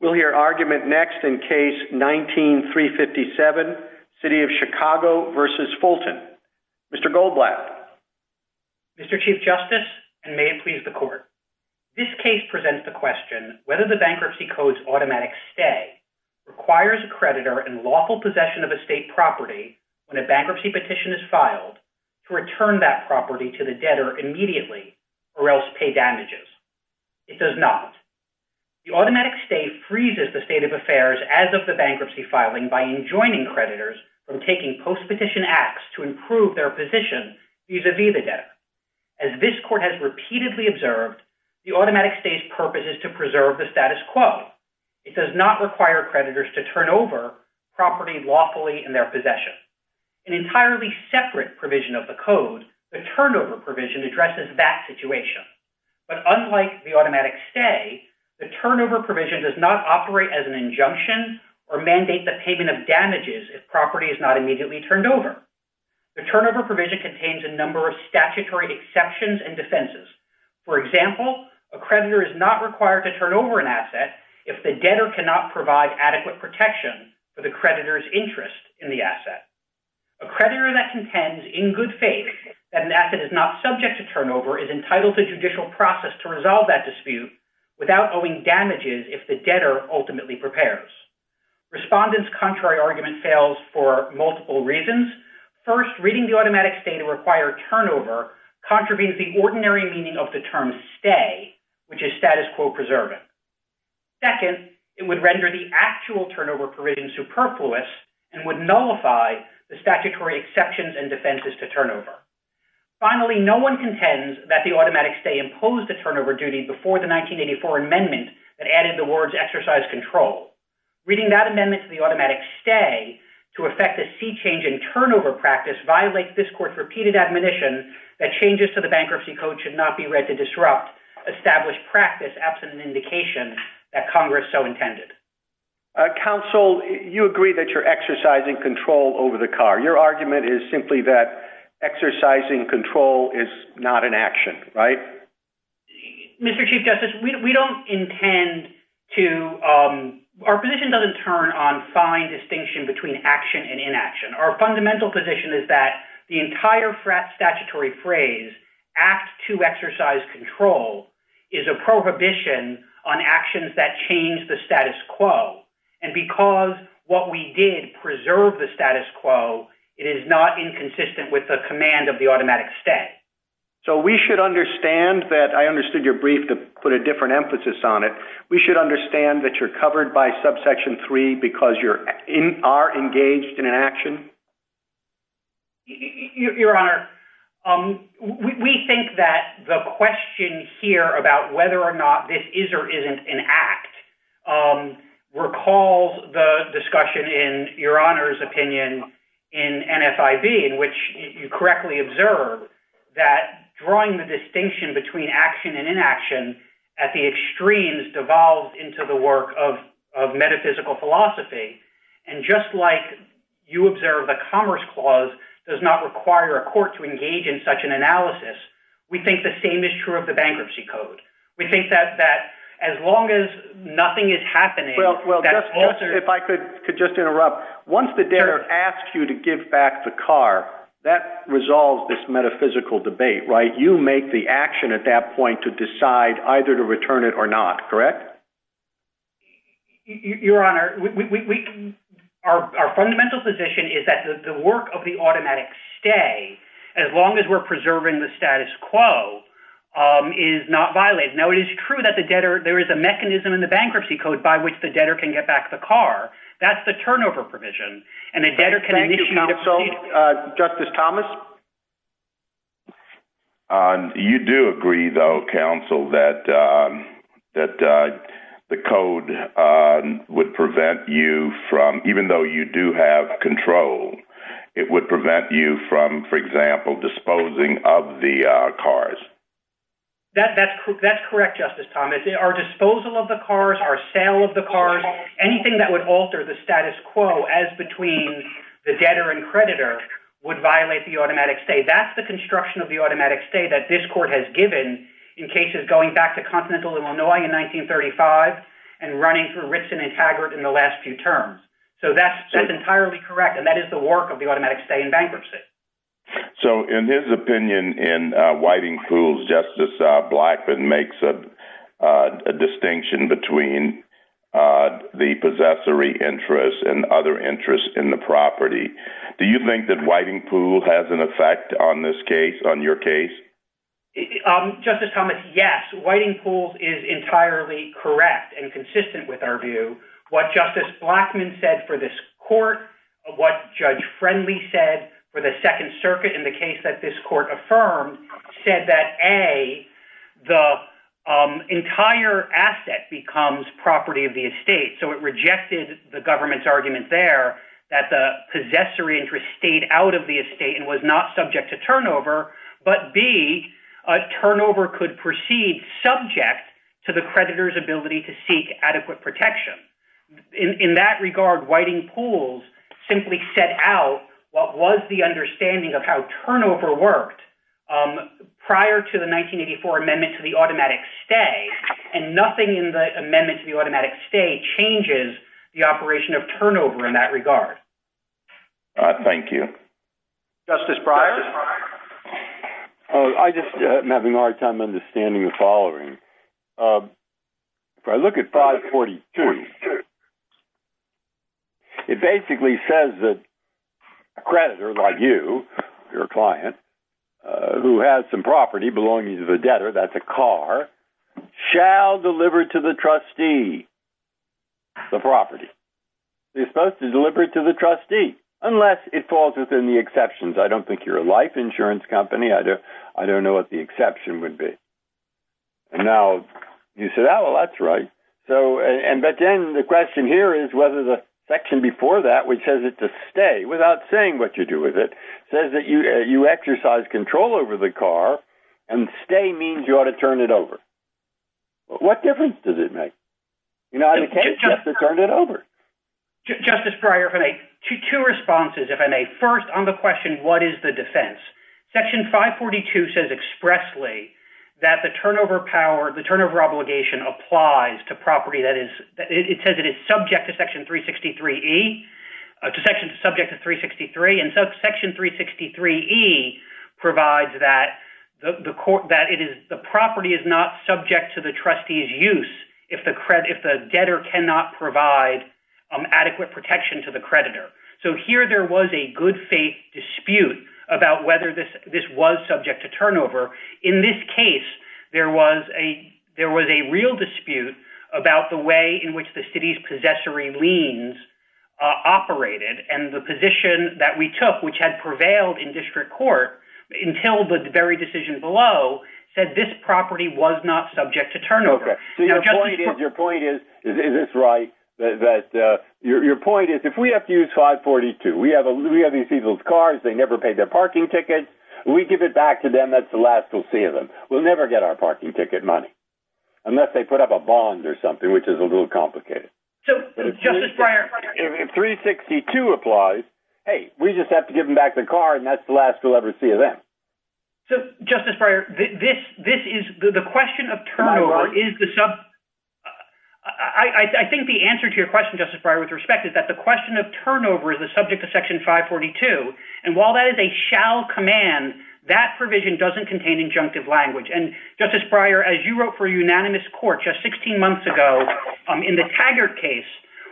We'll hear argument next in case 19-357, City of Chicago v. Fulton. Mr. Goldblatt. Mr. Chief Justice, and may it please the Court, this case presents the question whether the Bankruptcy Code's automatic stay requires a creditor in lawful possession of a state property when a bankruptcy petition is filed to return that property to the debtor immediately or else pay damages. It does not. The automatic stay freezes the state of affairs as of the bankruptcy filing by enjoining creditors from taking post-petition acts to improve their position vis-à-vis the debtor. As this Court has repeatedly observed, the automatic stay's purpose is to preserve the status quo. It does not require creditors to turn over property lawfully in their possession. An entirely separate provision of the Code, the turnover provision addresses that situation. But unlike the automatic stay, the turnover provision does not operate as an injunction or mandate the payment of damages if property is not immediately turned over. The turnover provision contains a number of statutory exceptions and defenses. For example, a creditor is not required to turn over an asset if the debtor cannot provide adequate protection for the creditor's interest in the asset. A creditor that contends in good faith that an asset is not subject to turnover is entitled to judicial process to resolve that dispute without owing damages if the debtor ultimately prepares. Respondent's contrary argument fails for multiple reasons. First, reading the automatic stay to require turnover contravenes the ordinary meaning of the term stay, which is status quo preserving. Second, it would render the actual turnover provision superfluous and would nullify the statutory exceptions and defenses to turnover. Finally, no one contends that the automatic stay imposed the turnover duty before the 1984 amendment that added the words exercise control. Reading that amendment to the automatic stay to effect a sea change in turnover practice violates this Court's repeated admonition that changes to the Bankruptcy Code should not be read to disrupt established practice absent an indication that Congress so intended. Counsel, you agree that you're exercising control over the car. Your argument is simply that exercising control is not an action, right? Mr. Chief Justice, we don't intend to... Our position doesn't turn on fine distinction between action and inaction. Our fundamental position is that the entire statutory phrase, act to exercise control, is a prohibition on actions that change the status quo. And because what we did preserve the status quo, it is not inconsistent with the command of the automatic stay. So we should understand that... I understood your brief to put a different emphasis on it. We should understand that you're covered by subsection three because you are engaged in an act. Your Honor, we think that the question here about whether or not this is or isn't an act, recall the discussion in your Honor's opinion in NFIB in which you correctly observed that drawing the distinction between action and inaction at the extremes devolved into the work of metaphysical philosophy. And just like you observe the Commerce Clause does not require a court to engage in such an analysis, we think the same is true of the Bankruptcy Code. We think that as long as nothing is happening... Well, if I could just interrupt. Once the debtor asks you to give back the car, that resolves this metaphysical debate, right? You make the action at that point to decide either to return it or not, correct? Your Honor, our fundamental position is that the work of the automatic stay, as long as we're preserving the status quo, is not violated. Now, it is true that the debtor... There is a mechanism in the Bankruptcy Code by which the debtor can get back the car. That's the turnover provision. And the debtor can initiate... Thank you, counsel. Justice Thomas? You do agree, though, counsel, that the code would prevent you from... Even though you do have control, it would prevent you from, for example, disposing of the cars. That's correct, Justice Thomas. Our disposal of the cars, our sale of the cars, anything that would alter the status quo as between the debtor and creditor would violate the automatic stay. That's the construction of the automatic stay that this court has given in cases going back to Continental, Illinois in 1935 and running for Rixon and Taggart in the last few terms. So that's entirely correct, and that is the work of the automatic stay in bankruptcy. So in his opinion, in Whiting Poole's, Justice Blackman makes a distinction between the possessory interest and other interests in the property. Do you think that Whiting Poole has an effect on this case, on your case? Justice Thomas, yes. Whiting Poole is entirely correct and consistent with our view. What Justice Blackman said for this court, what Judge Friendly said for the Second Circuit in the case that this court affirmed, said that A, the entire asset becomes property of the estate. So it rejected the government's argument there that the possessory interest stayed out of the estate and was not subject to turnover, but B, turnover could proceed subject to the creditor's ability to seek adequate protection. In that regard, Whiting Poole simply set out what was the understanding of how turnover worked prior to the 1984 amendment to the automatic stay, and nothing in the amendment to the automatic stay changes the operation of turnover in that regard. All right. Thank you. Justice Breyer. Oh, I just am having a hard time understanding the following. If I look at 542, it basically says that a creditor like you, your client, who has some property belonging to the debtor, that's a car, shall deliver to the trustee the property. They're supposed to deliver it to the trustee, unless it falls within the exceptions. I don't think you're a life insurance company. I don't know what the exception would be. And now you said, oh, that's right. But then the question here is whether the section before that, which has it to stay without saying what you do with it, says that you exercise control over the car, and stay means you ought to turn it over. What difference does it make? In either case, you have to turn it over. Justice Breyer, if I may, two responses, if I may. First, on the question, what is the defense? Section 542 says expressly that the turnover power, the turnover obligation applies to property that is, it says it is subject to section 363E, subject to section 363, and section 363E provides that the property is not subject to the trustee's use if the debtor cannot provide adequate protection to the creditor. So here there was a good faith dispute about whether this was subject to turnover. In this case, there was a real dispute about the way in which the city's possessory liens operated, and the position that we took, which had prevailed in district court until the very decision below, said this property was not subject to turnover. So your point is, is this right, that your point is if we have to use 542, we have these people's cars, they never paid their parking ticket, we give it back to them, that's the last we'll see of them. We'll never get our parking ticket money, unless they put up a bond or something, which is a little complicated. So Justice Breyer, if 362 applies, hey, we just have to give them back the car, and that's the last we'll ever see of them. So Justice Breyer, this is, the question of turnover is the, I think the answer to your question, Justice Breyer, with respect is that the question of turnover is the subject of Section 542, and while that is a shall command, that provision doesn't contain injunctive language. And Justice Breyer, as you wrote for a unanimous court just 16 months ago, in the Taggart case,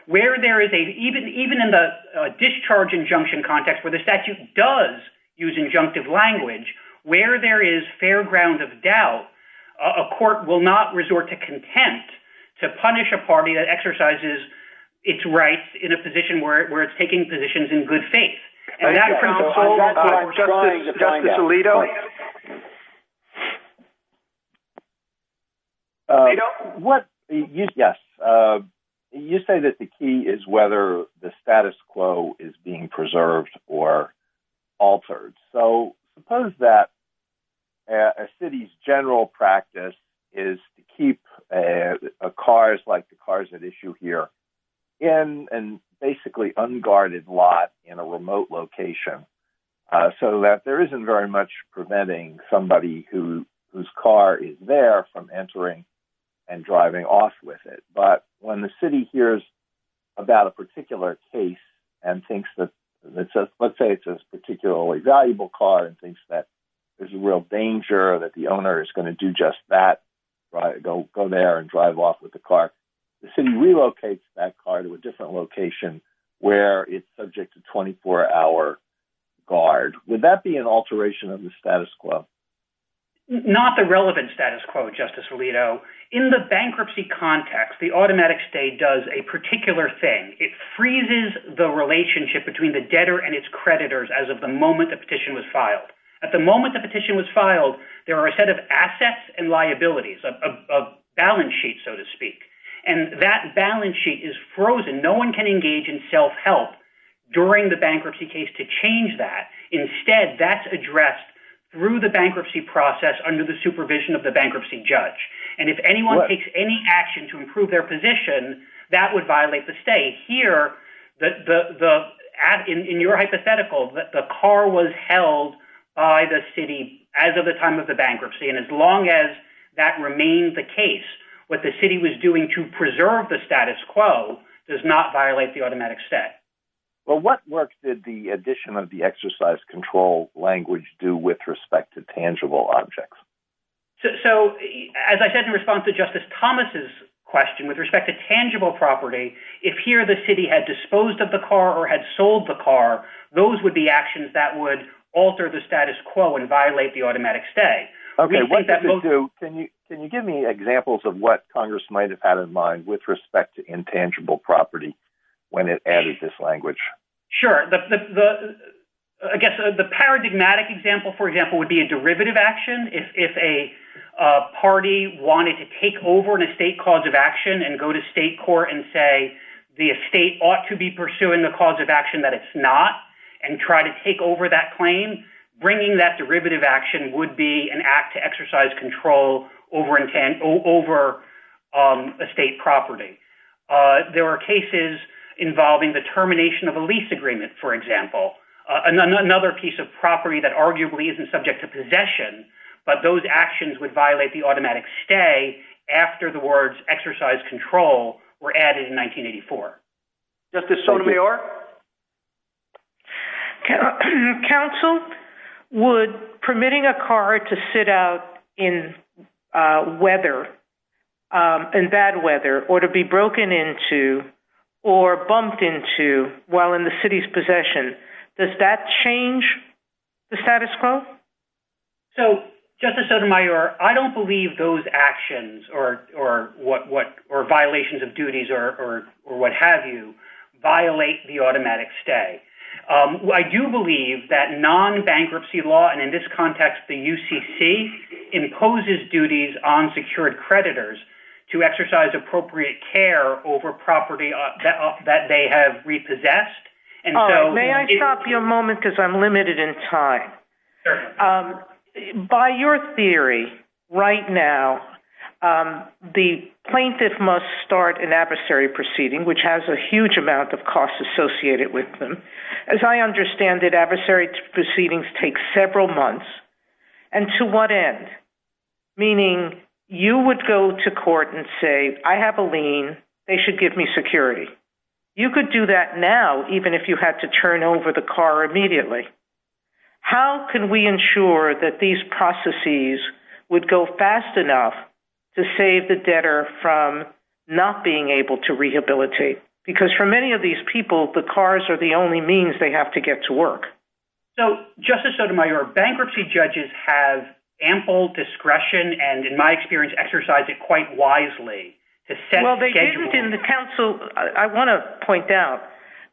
where there is a, even in the discharge injunction context, where the statute does use injunctive language, where there is fair ground of doubt, a court will not resort to contempt to punish a party that exercises its rights in a position where it's taking positions in good faith. Justice Alito? Yes. You say that the key is whether the status quo is being preserved or not. I think that the whole practice is to keep cars like the cars at issue here in, and basically unguarded lot in a remote location, so that there isn't very much preventing somebody whose car is there from entering and driving off with it. But when the city hears about a particular case and thinks that, let's say it's a particularly valuable car and thinks that there's a real danger that the just that, go there and drive off with the car. The city relocates that car to a different location where it's subject to 24 hour guard. Would that be an alteration of the status quo? Not the relevant status quo, Justice Alito. In the bankruptcy context, the automatic stay does a particular thing. It freezes the relationship between the debtor and its creditors as of the liabilities, a balance sheet, so to speak. That balance sheet is frozen. No one can engage in self-help during the bankruptcy case to change that. Instead, that's addressed through the bankruptcy process under the supervision of the bankruptcy judge. If anyone takes any action to improve their position, that would violate the state. Here, in your hypothetical, the car was that remained the case. What the city was doing to preserve the status quo does not violate the automatic stay. Well, what work did the addition of the exercise control language do with respect to tangible objects? So, as I said in response to Justice Thomas's question with respect to tangible property, if here the city had disposed of the car or had sold the car, those would be the same. Can you give me examples of what Congress might have had in mind with respect to intangible property when it added this language? Sure. The paradigmatic example, for example, would be a derivative action. If a party wanted to take over an estate cause of action and go to state court and say the estate ought to be pursuing the cause of action that it's not and try to take over that claim, bringing that derivative action would be an act to exercise control over a state property. There were cases involving the termination of a lease agreement, for example. Another piece of property that arguably isn't subject to possession, but those actions would violate the automatic stay after the words exercise control were added in bad weather or to be broken into or bumped into while in the city's possession. Does that change the status quo? So, Justice Sotomayor, I don't believe those actions or violations of duties or what have you violate the automatic stay. I do believe that non-bankruptcy law and in this context, the UCC imposes duties on secured creditors to exercise appropriate care over property that they have repossessed. May I stop you for a moment because I'm limited in time. By your theory right now, the plaintiff must start an adversary proceeding, which has a huge amount of costs associated with them. As I understand it, adversary proceedings take several months and to what end? Meaning you would go to court and say, I have a lien, they should give me security. You could do that now, even if you had to turn over the car immediately. How can we ensure that these processes would go fast enough to save the debtor from not being able to rehabilitate? Because for many of these people, the cars are the only means they have to get to work. So, Justice Sotomayor, bankruptcy judges have ample discretion and in my experience, exercise it quite wisely. Well, they didn't in the council. I want to point out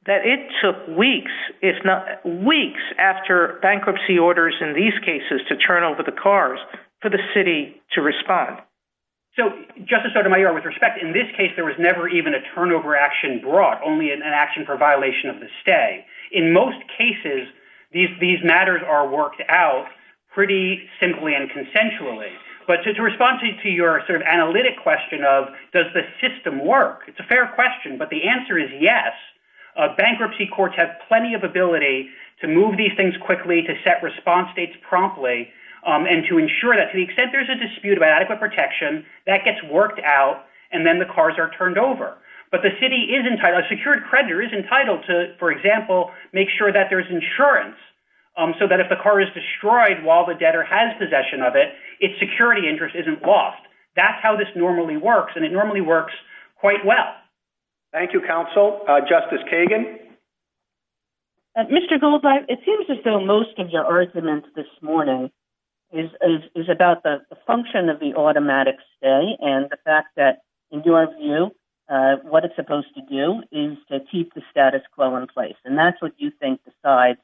that it took weeks. It's not weeks after bankruptcy orders in these cases to turn over the cars for the city to respond. So, Justice Sotomayor, with respect, in this case, there was never even a turnover action brought, only an action for violation of the stay. In most cases, these matters are worked out pretty simply and consensually. But to respond to your sort of analytic question of, does the system work? It's a fair question, but the answer is yes. Bankruptcy courts have plenty of ability to move these things quickly, to set response dates promptly, and to ensure that to the extent there's a dispute about adequate protection, that gets worked out and then the cars are turned over. But the city is entitled, a secured creditor is entitled to, for example, make sure that there's insurance so that if the car is destroyed while the debtor has possession of it, its security interest isn't lost. That's how this normally works and it normally works quite well. Thank you, counsel. Justice Kagan? Mr. Goldblatt, it seems as though most of your arguments this morning is about the function of the automatic stay and the fact that, in your view, what it's supposed to do is to keep the status quo in place. And that's what you think besides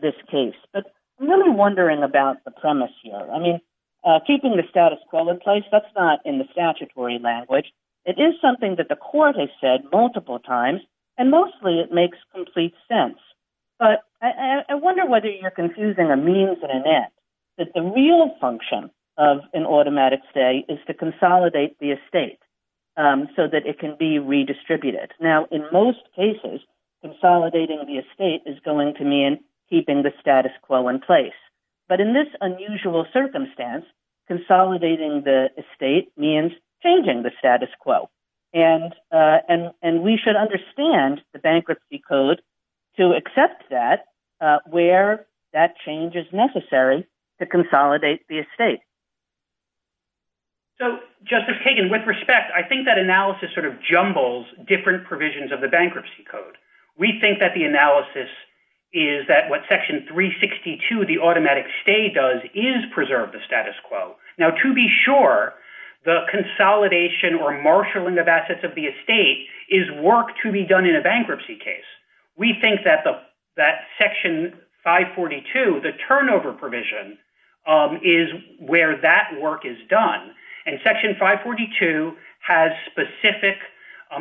this case. But I'm really wondering about the premise here. I mean, keeping the status quo in place, that's not in the statutory language. It is something that the court has said multiple times and mostly it makes complete sense. But I wonder whether you're confusing a means and an end, that the real function of an automatic stay is to consolidate the estate so that it can be redistributed. Now, in most cases, consolidating the estate is going to mean keeping the status quo in place. But in this unusual circumstance, consolidating the estate means changing the status quo. And we should understand the bankruptcy code to accept that where that change is necessary to consolidate the estate. So, Justice Kagan, with respect, I think that analysis sort of jumbles different provisions of the bankruptcy code. We think that the analysis is that what section 362 of the automatic stay does is preserve the status quo. Now, to be sure, the consolidation or marshaling of assets of the estate is work to be done in a bankruptcy case. We think that section 542, the turnover provision, is where that work is done. And section 542 has specific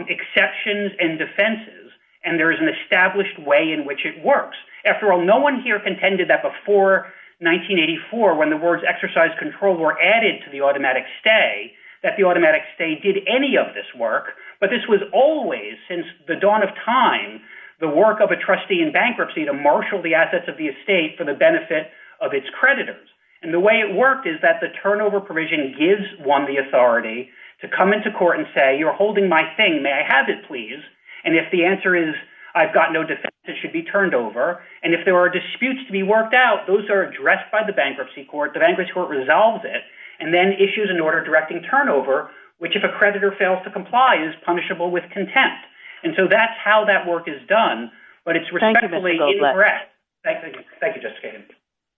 exceptions and defenses. And there's an established way in which it works. After all, no one here contended that before 1984, when the words exercise control were added to the automatic stay, that the automatic stay did any of this work. But this was always, since the dawn of time, the work of a trustee in bankruptcy to marshal the assets of the estate for the benefit of its creditors. And the way it worked is that the turnover provision gives one the authority to come into court and say, you're holding my thing. May I have it, please? And if the answer is, I've got no defense, it should be turned over. And if there are disputes to be worked out, those are addressed by the bankruptcy court. The bankruptcy court resolves it and then issues an order directing turnover, which if a creditor fails to comply is punishable with contempt. And so that's how that work is done. But it's respectfully incorrect. Thank you, Justice Kagan.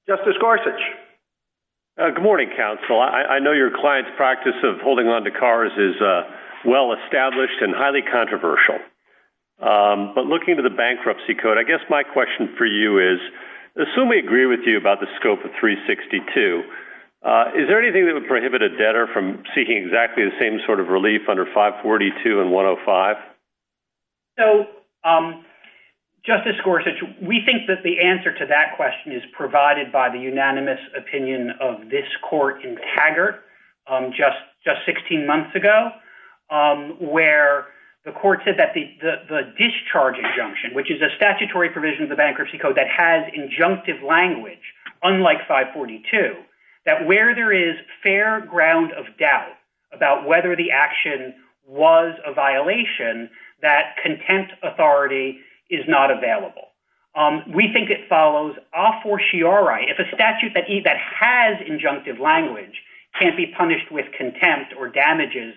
Justice Gorsuch. Good morning, counsel. I know your client's practice of holding on to cars is well-established and highly controversial. But looking to the bankruptcy code, I guess my question for you is, assume we agree with you about the scope of 362. Is there anything that would prohibit a debtor from seeking exactly the same sort of relief under 542 and 105? So, Justice Gorsuch, we think that the answer to that question is provided by the unanimous opinion of this court in Taggart just 16 months ago, where the court said that the discharge injunction, which is a statutory provision of the bankruptcy code that has injunctive language, unlike 542, that where there is fair ground of doubt about whether the action was a violation, that contempt authority is not available. We think it follows a fortiori. If a statute that has injunctive language can't be punished with contempt or damages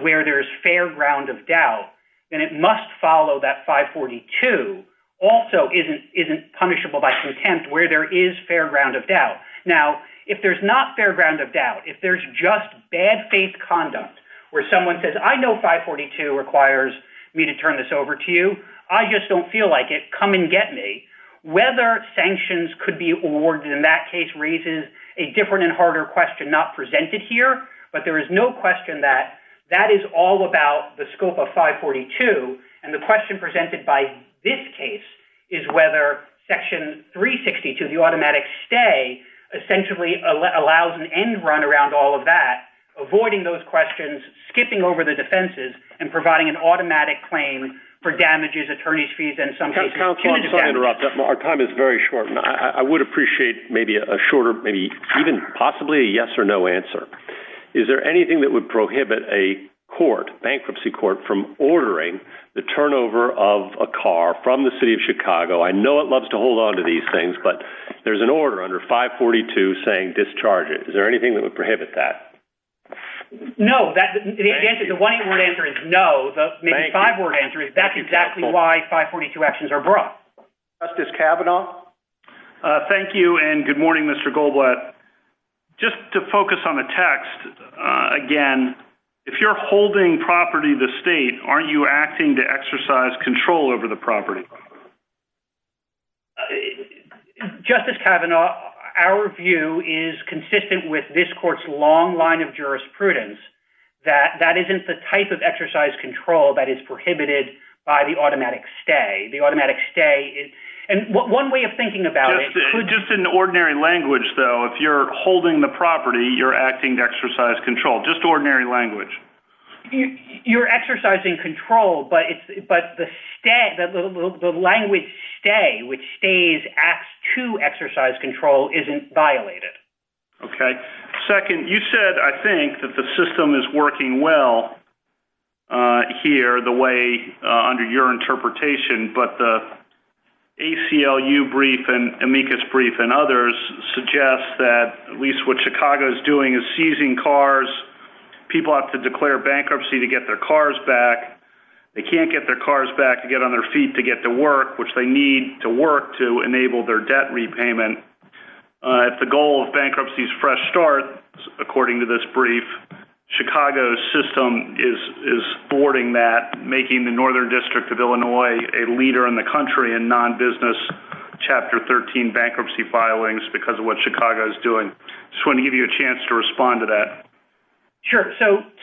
where there's fair ground of doubt, then it must follow that 542 also isn't punishable by contempt where there is fair ground of doubt. Now, if there's not fair ground of doubt, if there's just bad faith conduct where someone says, I know 542 requires me to turn this over to you. I just don't feel like it. Come and get me. Whether sanctions could be awarded in that case raises a different and harder question not presented here, but there is no question that that is all about the scope of 542. And the question presented by this case is whether section 362, the automatic stay, essentially allows an end run around all of that, avoiding those questions, skipping over the defenses and providing an automatic claim for damages, attorney's fees, and sometimes... I'm sorry to interrupt. Our time is very short, and I would appreciate maybe a shorter, maybe even possibly a yes or no answer. Is there anything that would prohibit a court, bankruptcy court, from ordering the turnover of a car from the city of Chicago? I know it loves to hold on to these things, but there's an order under 542 saying discharge it. Is there anything that would prohibit that? No, that's the answer. The one word answer is no. The five word answer is that's Justice Kavanaugh. Thank you, and good morning, Mr. Goldblatt. Just to focus on the text again, if you're holding property to state, aren't you acting to exercise control over the property? Justice Kavanaugh, our view is consistent with this court's long line of jurisprudence that that isn't the type of exercise control that is prohibited by the automatic stay. The automatic stay is... One way of thinking about it... Just in ordinary language, though, if you're holding the property, you're acting to exercise control. Just ordinary language. You're exercising control, but the language stay, which stays as to exercise control, isn't violated. Okay. Second, you said, I think, that the system is working well here, the way under your interpretation, but the ACLU brief and Amicus brief and others suggest that at least what Chicago's doing is seizing cars. People have to declare bankruptcy to get their cars back. They can't get their cars back and get on their feet to get to work, which they need to work to enable their debt repayment. If the goal of bankruptcy is fresh start, according to this brief, Chicago's system is thwarting that, making the Northern District of Illinois a leader in the country in non-business Chapter 13 bankruptcy filings because of what Chicago is doing. I just want to give you a chance to respond to that. Sure.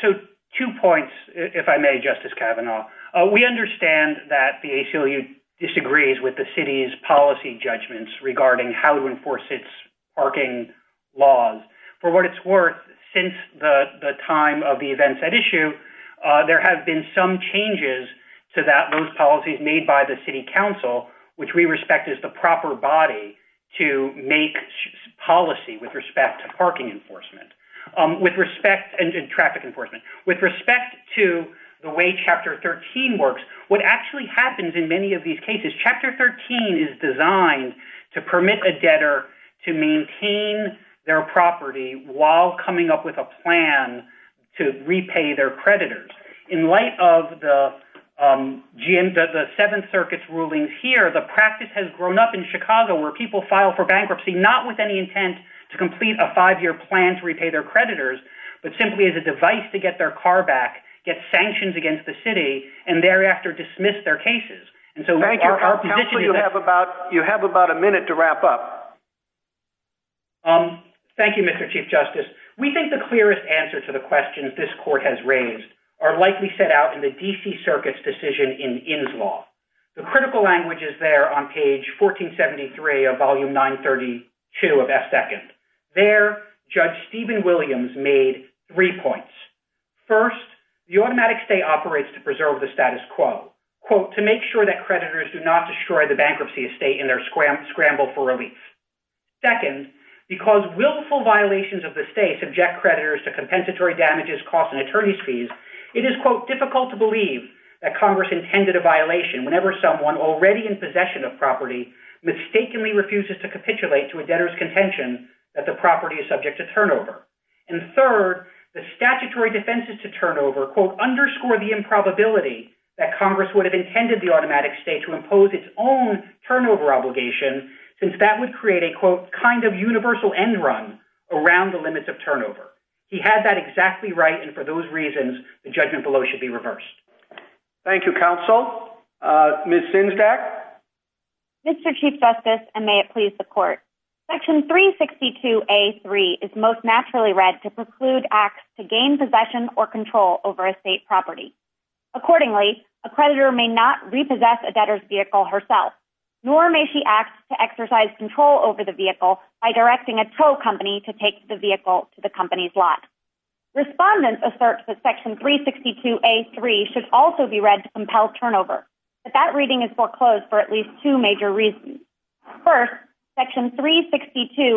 Two points, if I may, Justice Kavanaugh. We understand that the ACLU disagrees with the city's policy judgments regarding how to enforce its parking laws. For what it's worth, since the time of the events at issue, there have been some changes to those policies made by the city council, which we respect as the proper body to make policy with respect to parking enforcement, with respect to traffic enforcement. With respect to the way Chapter 13 works, what actually happens in many of these cases, Chapter 13 is designed to permit a debtor to maintain their property while coming up with a plan to repay their creditors. In light of the Seventh Circuit's rulings here, the practice has grown up in Chicago where people file for bankruptcy, not with any intent to complete a five-year plan to repay their creditors, but simply as a device to get their car and thereafter dismiss their cases. You have about a minute to wrap up. Thank you, Mr. Chief Justice. We think the clearest answer to the questions this court has raised are likely set out in the D.C. Circuit's decision in Inns Law. The critical language is there on page 1473 of Volume 932 of F2. There, Judge Stephen Williams made three points. First, the automatic state operates to preserve the status quo, quote, to make sure that creditors do not destroy the bankruptcy estate in their scramble for relief. Second, because willful violations of the state subject creditors to compensatory damages, costs, and attorney's fees, it is, quote, difficult to believe that Congress intended a violation whenever someone already in possession of property mistakenly refuses to capitulate to a debtor's contention that the underscore the improbability that Congress would have intended the automatic state to impose its own turnover obligation, since that would create a, quote, kind of universal end run around the limits of turnover. He had that exactly right, and for those reasons, the judgment below should be reversed. Thank you, counsel. Ms. Sinsdach? Mr. Chief Justice, and may it please the court, Section 362A.3 is most naturally read to preclude acts to gain possession or control over estate property. Accordingly, a creditor may not repossess a debtor's vehicle herself, nor may she act to exercise control over the vehicle by directing a tow company to take the vehicle to the company's lot. Respondents assert that Section 362A.3 should also be read to compel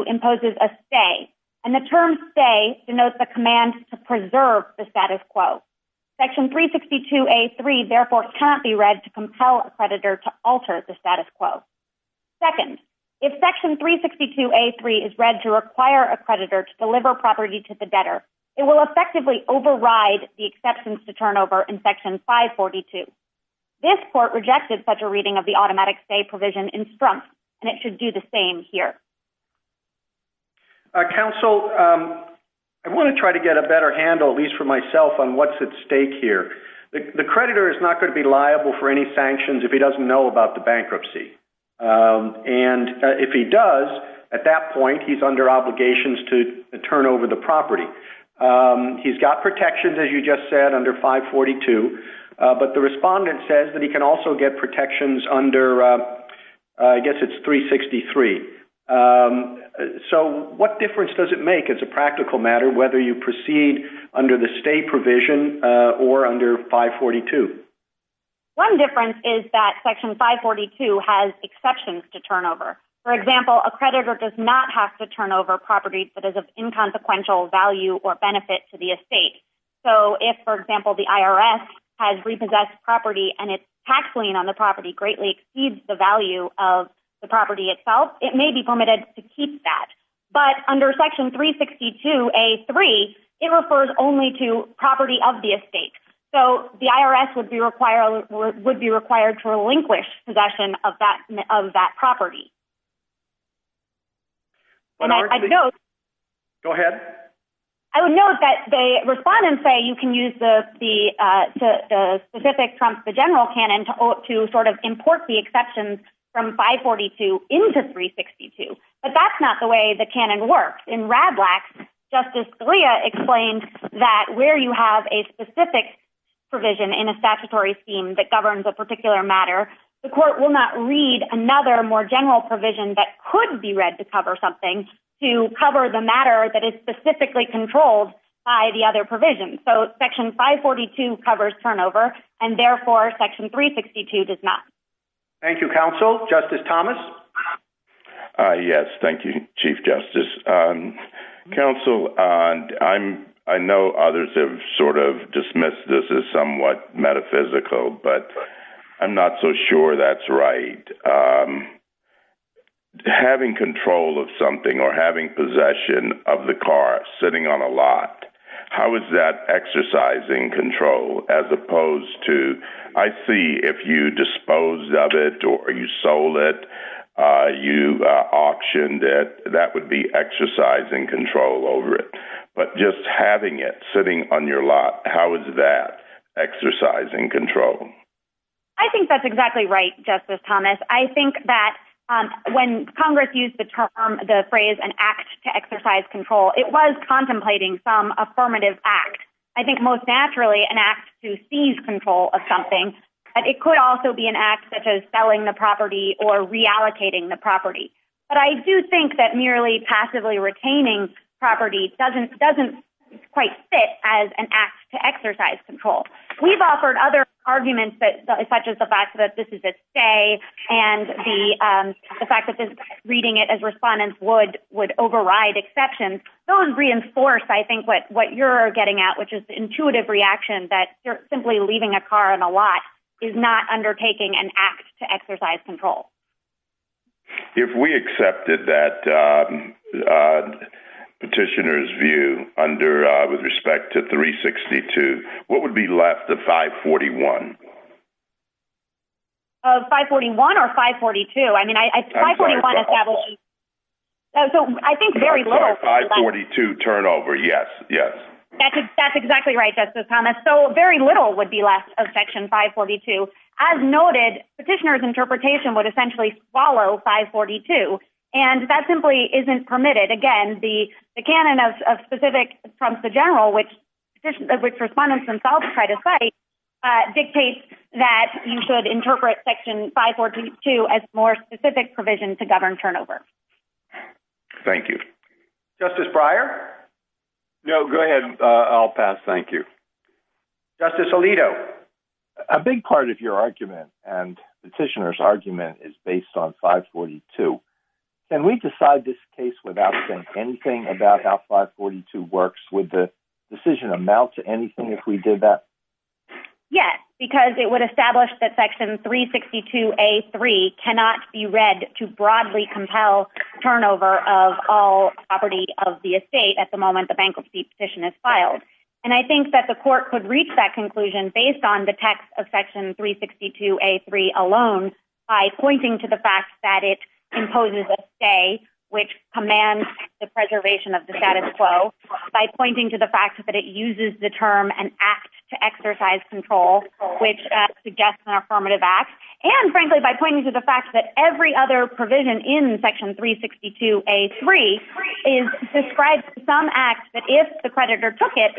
imposes a stay, and the term stay denotes the command to preserve the status quo. Section 362A.3 therefore can't be read to compel a creditor to alter the status quo. Second, if Section 362A.3 is read to require a creditor to deliver property to the debtor, it will effectively override the exceptions to turnover in Section 542. This court rejected such a reading of the automatic stay provision in front, and it should do the same here. Counsel, I want to try to get a better handle, at least for myself, on what's at stake here. The creditor is not going to be liable for any sanctions if he doesn't know about the bankruptcy, and if he does, at that point, he's under obligations to turn over the property. He's got protections, as you just said, under 542, but the respondent says that he can also get protections under, I guess it's 363. So what difference does it make as a practical matter whether you proceed under the stay provision or under 542? One difference is that Section 542 has exceptions to turnover. For example, a creditor does not have to turn over property that is of inconsequential value or benefit to the estate. So if, for example, the IRS has repossessed property and its tax lien on the property greatly exceeds the value of the property itself, it may be permitted to keep that. But under Section 362.A.3, it refers only to property of the estate. So the IRS would be required to relinquish possession of that property. Go ahead. I would note that the respondents say you can use the specific from the general canon to sort of import the exceptions from 542 into 362, but that's not the way the canon works. In RADLAX, Justice Scalia explained that where you have a specific provision in a statutory scheme that governs a particular matter, the court will not read another more general provision that could be read to cover something to cover the matter that is specifically controlled by the other provisions. So Section 542 covers turnover, and therefore Section 362 does not. Thank you, Counsel. Justice Thomas? Yes, thank you, Chief Justice. Counsel, I know others have sort of dismissed this as somewhat metaphysical, but I'm not so sure that's right. Having control of something or having possession of the car sitting on a lot, how is that exercising control as opposed to, I see if you disposed of it or you sold it, you auctioned it, that would be exercising control over it. But just having it sitting on your lot, how is that exercising control? I think that's exactly right, Justice Thomas. I think that when Congress used the term, the phrase, an act to exercise control, it was contemplating some affirmative act. I think most naturally an act to seize control of something, but it could also be an act such as selling the property or reallocating the property. But I do think that passively retaining property doesn't quite fit as an act to exercise control. We've offered other arguments such as the fact that this is at stay and the fact that reading it as respondents would override exceptions. Those reinforce, I think, what you're getting at, which is the intuitive reaction that simply leaving a car on a lot is not undertaking an act to exercise control. If we accepted that petitioner's view under, with respect to 362, what would be left of 541? Of 541 or 542? I mean, 541 established... I think very little. 542 turnover, yes, yes. That's exactly right, Justice Thomas. So very little would be left of Section 542. As noted, petitioner's interpretation would essentially follow 542, and that simply isn't permitted. Again, the canon of specific from the general, which respondents themselves try to cite, dictates that you should interpret Section 542 as more specific provision to govern turnover. Thank you. Justice Breyer? No, go ahead. I'll pass. Thank you. Justice Alito? A big part of your argument and petitioner's argument is based on 542. Can we decide this case without saying anything about how 542 works? Would the decision amount to anything if we did that? Yes, because it would establish that Section 362A.3 cannot be read to broadly compel turnover of all property of the estate at the moment the bankruptcy petition is filed. And I think that the court could reach that conclusion based on the text of Section 362A.3 alone by pointing to the fact that it imposes a stay, which commands the preservation of the status quo, by pointing to the fact that it uses the term an act to exercise control, which suggests an affirmative act, and frankly, by pointing to the fact that every other provision in Section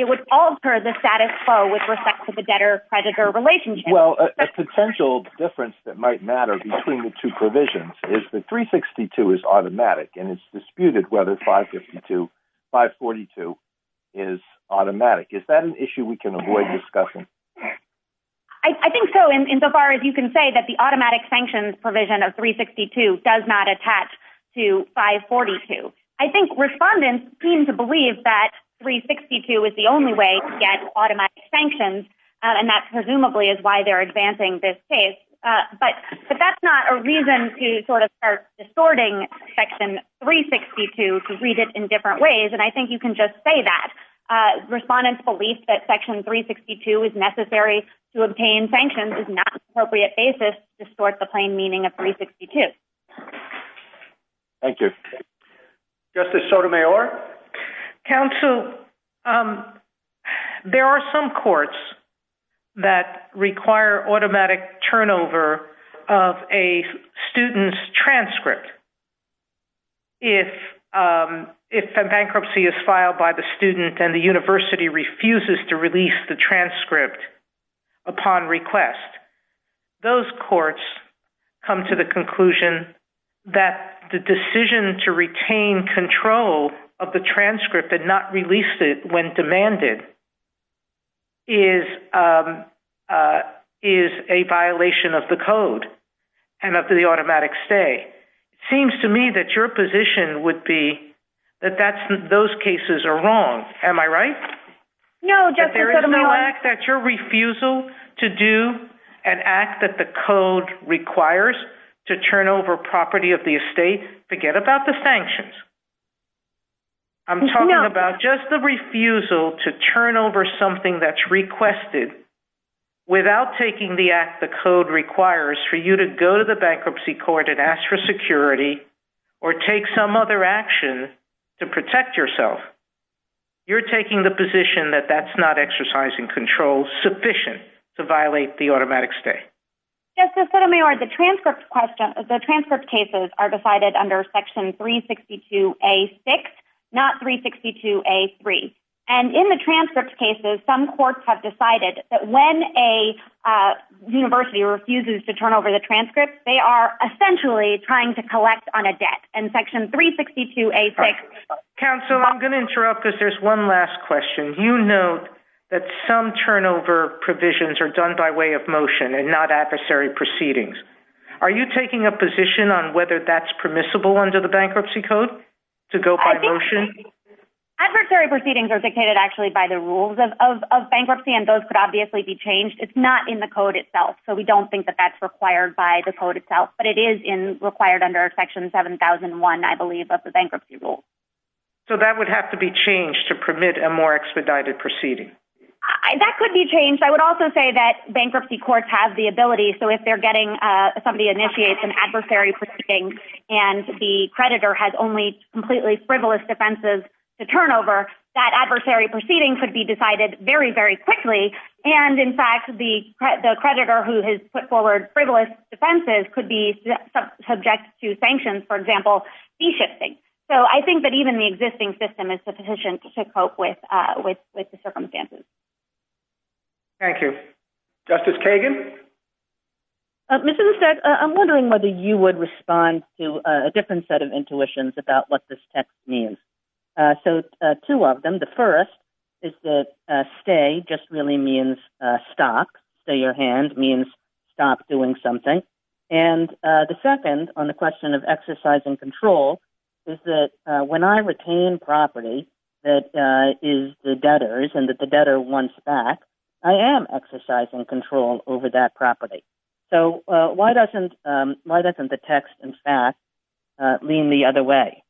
would alter the status quo with respect to the debtor-creditor relationship. Well, a potential difference that might matter between the two provisions is that 362 is automatic, and it's disputed whether 542 is automatic. Is that an issue we can avoid discussion? I think so, insofar as you can say that the automatic sanctions provision of 362 does not the only way to get automatic sanctions, and that presumably is why they're advancing this case. But that's not a reason to sort of start distorting Section 362 to read it in different ways, and I think you can just say that. Respondents' belief that Section 362 is necessary to obtain sanctions is not an appropriate basis to distort the plain meaning of 362. Thank you. Justice Sotomayor? Counsel, there are some courts that require automatic turnover of a student's transcript. If a bankruptcy is filed by the student and the university refuses to release the transcript upon request, those courts come to the conclusion that the decision to retain control of the transcript and not release it when demanded is a violation of the code and of the automatic stay. It seems to me that your position would be that those cases are wrong. Am I right? No, Justice Sotomayor. There is no act that your refusal to do an act that the code requires to turn over property of the estate. Forget about the sanctions. I'm talking about just the refusal to turn over something that's requested without taking the act the code requires for you to go to the bankruptcy court and ask for security or take some other action to protect yourself. You're taking the control sufficient to violate the automatic stay. Justice Sotomayor, the transcript cases are decided under section 362A-6, not 362A-3. And in the transcript cases, some courts have decided that when a university refuses to turn over the transcript, they are essentially trying to collect on a debt. And section 362A-6... That some turnover provisions are done by way of motion and not adversary proceedings. Are you taking a position on whether that's permissible under the bankruptcy code, to go by motion? Adversary proceedings are dictated actually by the rules of bankruptcy, and those could obviously be changed. It's not in the code itself, so we don't think that that's required by the code itself, but it is required under section 7001, I believe, of the bankruptcy rule. So that would have to be changed to permit a more expedited proceeding? That could be changed. I would also say that bankruptcy courts have the ability, so if somebody initiates an adversary proceeding and the creditor has only completely frivolous defenses to turn over, that adversary proceeding could be decided very, very quickly. And in fact, the creditor who has put forward frivolous defenses could be subject to sanctions, for example, de-shifting. So I think that even the existing system is sufficient to cope with the circumstances. Thank you. Justice Kagan? Mr. Bissett, I'm wondering whether you would respond to a different set of intuitions about what this text means. So two of them. The first is that stay just really means stop. Say your hand means stop doing something. And the second on the question of exercise and control is that when I retain property that is the debtor's and that the debtor wants back, I am exercising control over that property. So why doesn't the text, in fact, lean the other way?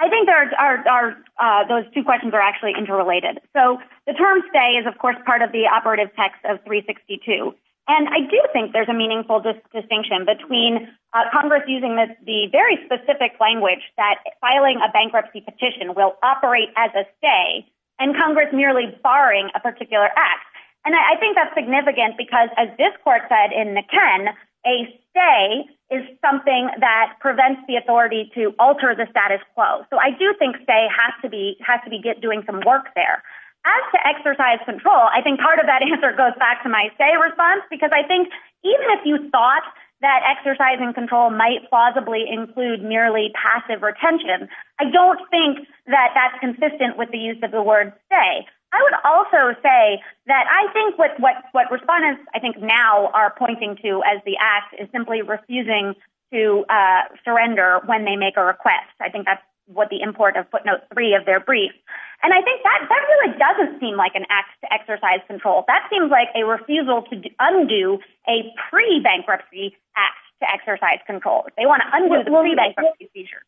I think those two questions are actually interrelated. So the term stay is, of course, part of the operative text of 362. And I do think there's a meaningful distinction between Congress using the very specific language that filing a bankruptcy petition will operate as a stay and Congress merely barring a particular act. And I think that's significant because, as this court said in the Ken, a stay is something that prevents the authority to alter the status quo. So I do think stay has to be doing some work there. As to exercise control, I think part of that answer goes back to my stay response, because I think even if you thought that exercising control might plausibly include nearly passive retention, I don't think that that's consistent with the use of the word stay. I would also say that I think what respondents, I think now are pointing to as the act is simply refusing to surrender when they make a request. I think that's what the import of footnote three of their brief. And I think that doesn't seem like an act to exercise control. That seems like a refusal to undo a pre-bankruptcy act to exercise control. They want to undo the pre-bankruptcy seizure.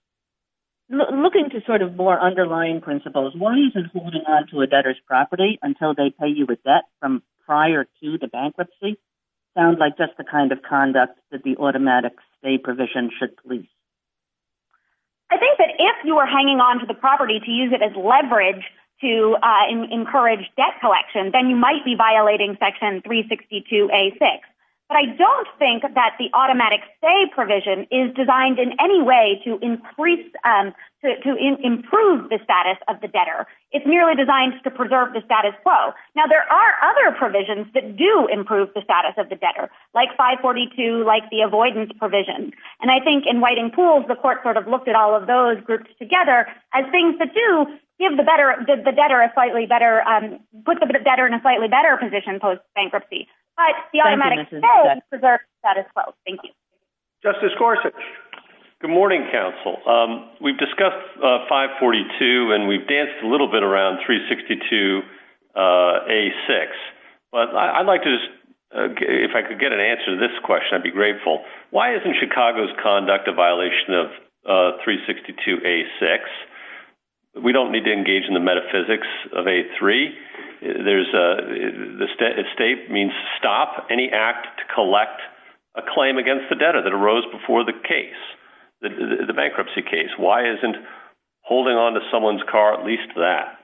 Looking to sort of more underlying principles, why isn't holding on to a debtor's property until they pay you a debt from prior to the bankruptcy? Sounds like that's the kind of conduct that the automatic stay provision should police. I think that if you were hanging on to the property to use it as leverage to encourage debt collection, then you might be violating section 362A6. But I don't think that the automatic stay provision is designed in any way to improve the status of the debtor. It's merely designed to preserve the status quo. Now, there are other provisions that do improve the status of the debtor, like 542, like the avoidance provision. And I think in Whiting Pools, the court sort of looked at all of those groups together as things that do give the debtor a slightly better position post-bankruptcy. But the automatic stay preserves the status quo. Thank you. Justice Gorsuch. Good morning, counsel. We've discussed 542, and we've danced a little bit around 362A6. But I'd like to just, if I could get an answer to this question, I'd be grateful. Why isn't Chicago's conduct a violation of 362A6? We don't need to engage in the metaphysics of A3. The state means stop any act to collect a claim against the debtor that arose before the case, the bankruptcy case. Why isn't holding onto someone's car at least that?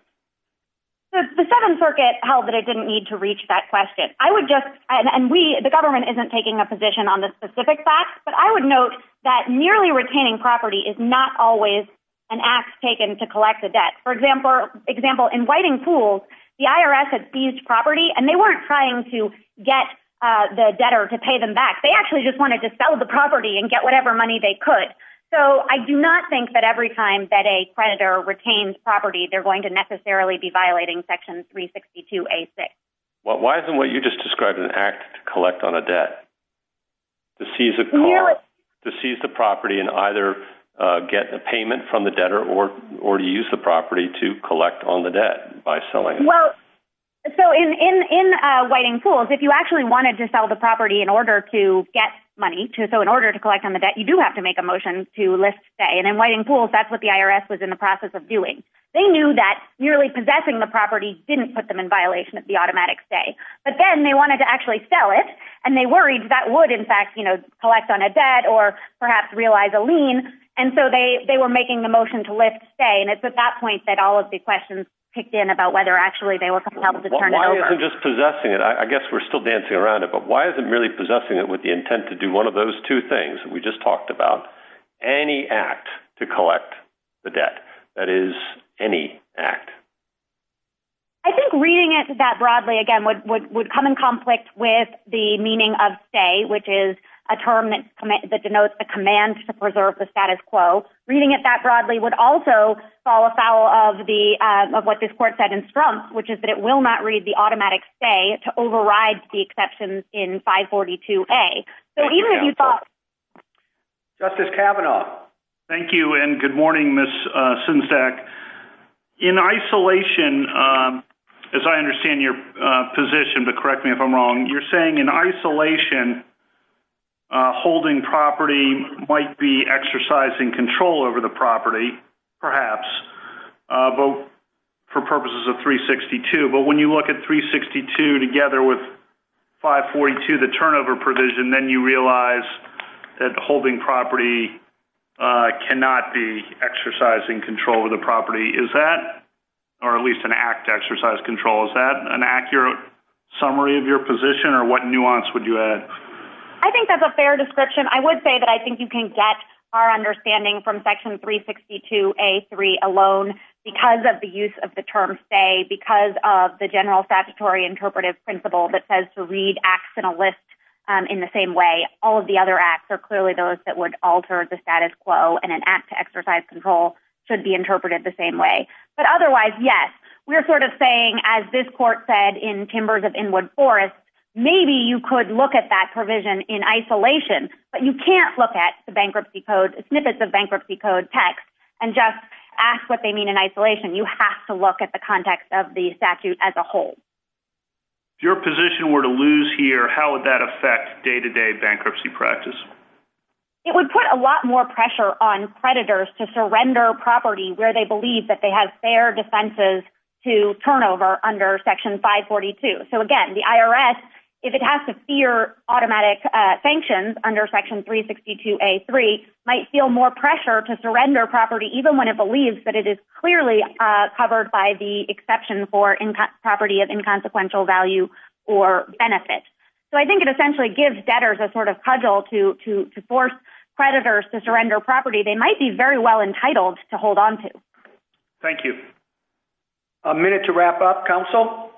The Seventh Circuit held that it didn't need to reach that question. I would just, and we, the government isn't taking a position on the specific facts, but I would note that merely retaining property is not always an act taken to collect a debt. For example, in Whitingpool, the IRS had seized property, and they weren't trying to get the debtor to pay them back. They actually just wanted to sell the property and get whatever money they could. So I do not think that every time that a creditor retains property, they're going to necessarily be violating section 362A6. Well, why isn't what you just described an act to collect on a debt? To seize a car, to seize the property and either get a payment from the debtor or use the property to collect on the debt by selling it? Well, so in Whitingpool, if you actually wanted to sell the property in order to get money, so in order to collect on the debt, you do have to make a motion to list stay. And in Whitingpool, that's what the IRS was in the process of doing. They knew that merely possessing the property didn't put them in violation of the automatic stay. But then they wanted to actually sell it, and they worried that would, in fact, collect on a debt or perhaps realize a lien. And so they were making the motion to list stay. And it's at that point that all of the questions kicked in about whether actually they were compelled to turn it over. Well, why isn't just possessing it? I guess we're still dancing around it, but why isn't merely possessing it with the intent to do one of those two things that we just talked about? Any act to collect the debt, that is any act? I think reading it that broadly, again, would come in conflict with the meaning of stay, which is a term that denotes a command to preserve the status quo. Reading it that broadly would also fall afoul of what this court said in Strumpf, which is that it will not read the automatic stay to override the exceptions in 542A. So even if you thought- Justice Kavanaugh. Thank you, and good morning, Ms. Sinzak. In isolation, as I understand your position, but correct me if I'm wrong, you're saying in isolation, holding property might be exercising control over the property, perhaps, for purposes of 362. But when you look at 362 together with 542, the turnover provision, then you realize that holding property cannot be exercising control of the property. Is that, or at least an act to exercise control, is that an accurate summary of your position, or what nuance would you add? I think that's a fair description. I would say that I think you can get our understanding from section 362A.3 alone, because of the use of the term stay, because of the general statutory interpretive principle that says to read acts in a list in the same way. All of the other acts are clearly those that would alter the status quo, and an act to exercise control should be interpreted the same way. But otherwise, yes, we're sort of saying, as this court said in Timbers of Inwood Forest, maybe you could look at that provision in isolation, but you can't look at the bankruptcy code, snippets of bankruptcy code text, and just ask what they mean in isolation. You have to look at the context of the statute as a whole. If your position were to lose here, how would that affect day-to-day bankruptcy practice? It would put a lot more pressure on predators to surrender property where they believe that they have fair defenses to turnover under section 542. So again, the IRS, if it has to steer automatic sanctions under section 362A.3, might feel more pressure to surrender property, even when it believes that it is clearly covered by the exception for property of inconsequential value or benefit. So I think it essentially gives debtors a sort of cudgel to force predators to surrender property they might be very well entitled to hold on to. Thank you. A minute to wrap up. Counsel?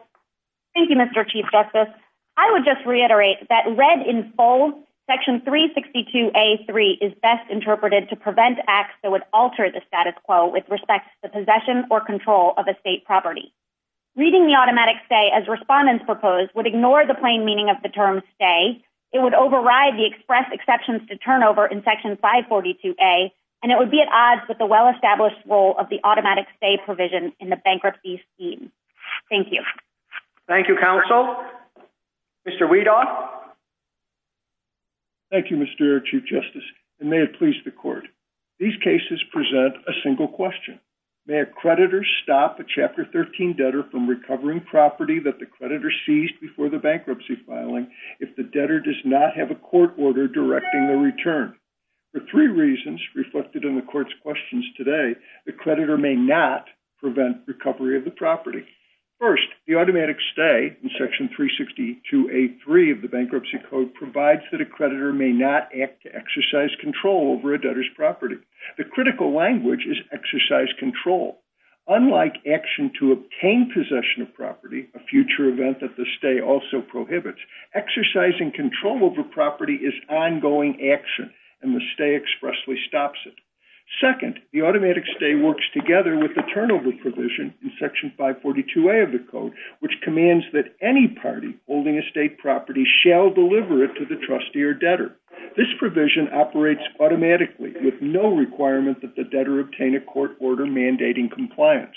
Thank you, Mr. Chief Justice. I would just reiterate that read in full section 362A.3 is best interpreted to prevent acts that would alter the status quo with respect to the possession or control of a state property. Reading the automatic stay as respondents proposed would ignore the plain meaning of the term stay. It would override the express exceptions to turnover in section 542A, and it would be at odds with the well-established role of the automatic stay provision in the bankruptcy scheme. Thank you. Thank you, Counsel. Mr. Weedon? Thank you, Mr. Chief Justice, and may it please the court. These cases present a single question. May a creditor stop a Chapter 13 debtor from recovering property that the creditor seized before the bankruptcy filing if the debtor does not have a court order directing a return? The three reasons reflected in the court's questions today, the creditor may not prevent recovery of the property. First, the automatic stay in section 362A.3 of the bankruptcy code provides that a creditor may not act to exercise control over a debtor's property. The critical language is exercise control. Unlike action to obtain possession of property, a future event that the stay also prohibits, exercising control over property is ongoing action, and the stay expressly Second, the automatic stay works together with the turnover provision in section 542A of the code, which commands that any party holding estate property shall deliver it to the trustee or debtor. This provision operates automatically with no requirement that the debtor obtain a court order mandating compliance.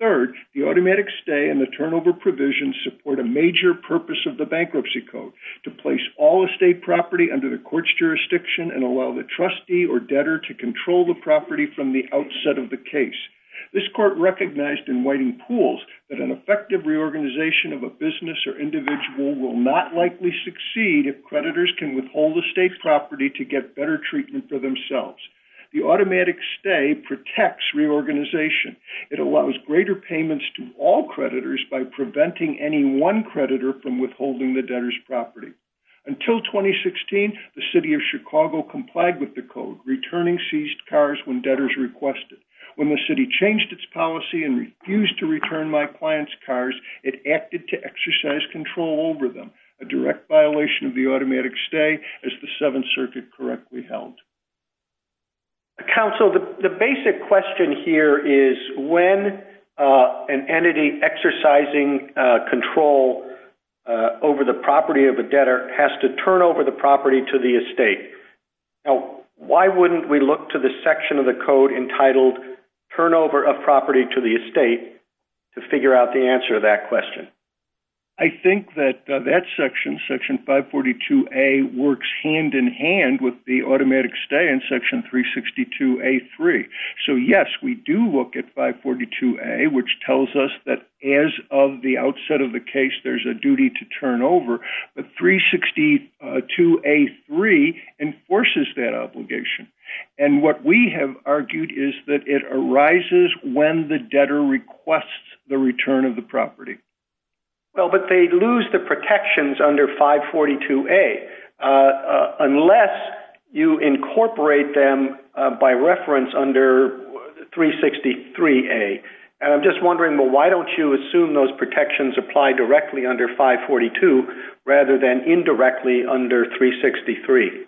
Third, the automatic stay and the turnover provision support a major purpose of the bankruptcy code, to place all estate property under the court's jurisdiction and allow the trustee or debtor to control the property from the outset of the case. This court recognized in Whiting Pools that an effective reorganization of a business or individual will not likely succeed if creditors can withhold the state's property to get better treatment for themselves. The automatic stay protects reorganization. It allows greater payments to all creditors by preventing any one with the code, returning seized cars when debtors request it. When the city changed its policy and refused to return my client's cars, it acted to exercise control over them, a direct violation of the automatic stay as the Seventh Circuit correctly held. Counsel, the basic question here is when an entity exercising control over the property of the debtor has to turn over the estate, why wouldn't we look to the section of the code entitled Turnover of Property to the Estate to figure out the answer to that question? I think that that section, Section 542A, works hand-in-hand with the automatic stay in Section 362A3. So yes, we do look at 542A, which tells us that as of the outset of the case, there's a duty to turn over, but 362A3 enforces that obligation. And what we have argued is that it arises when the debtor requests the return of the property. Well, but they lose the protections under 542A unless you incorporate them by reference under 363A. And I'm just wondering, well, why don't you assume those protections apply directly under 542 rather than indirectly under 363?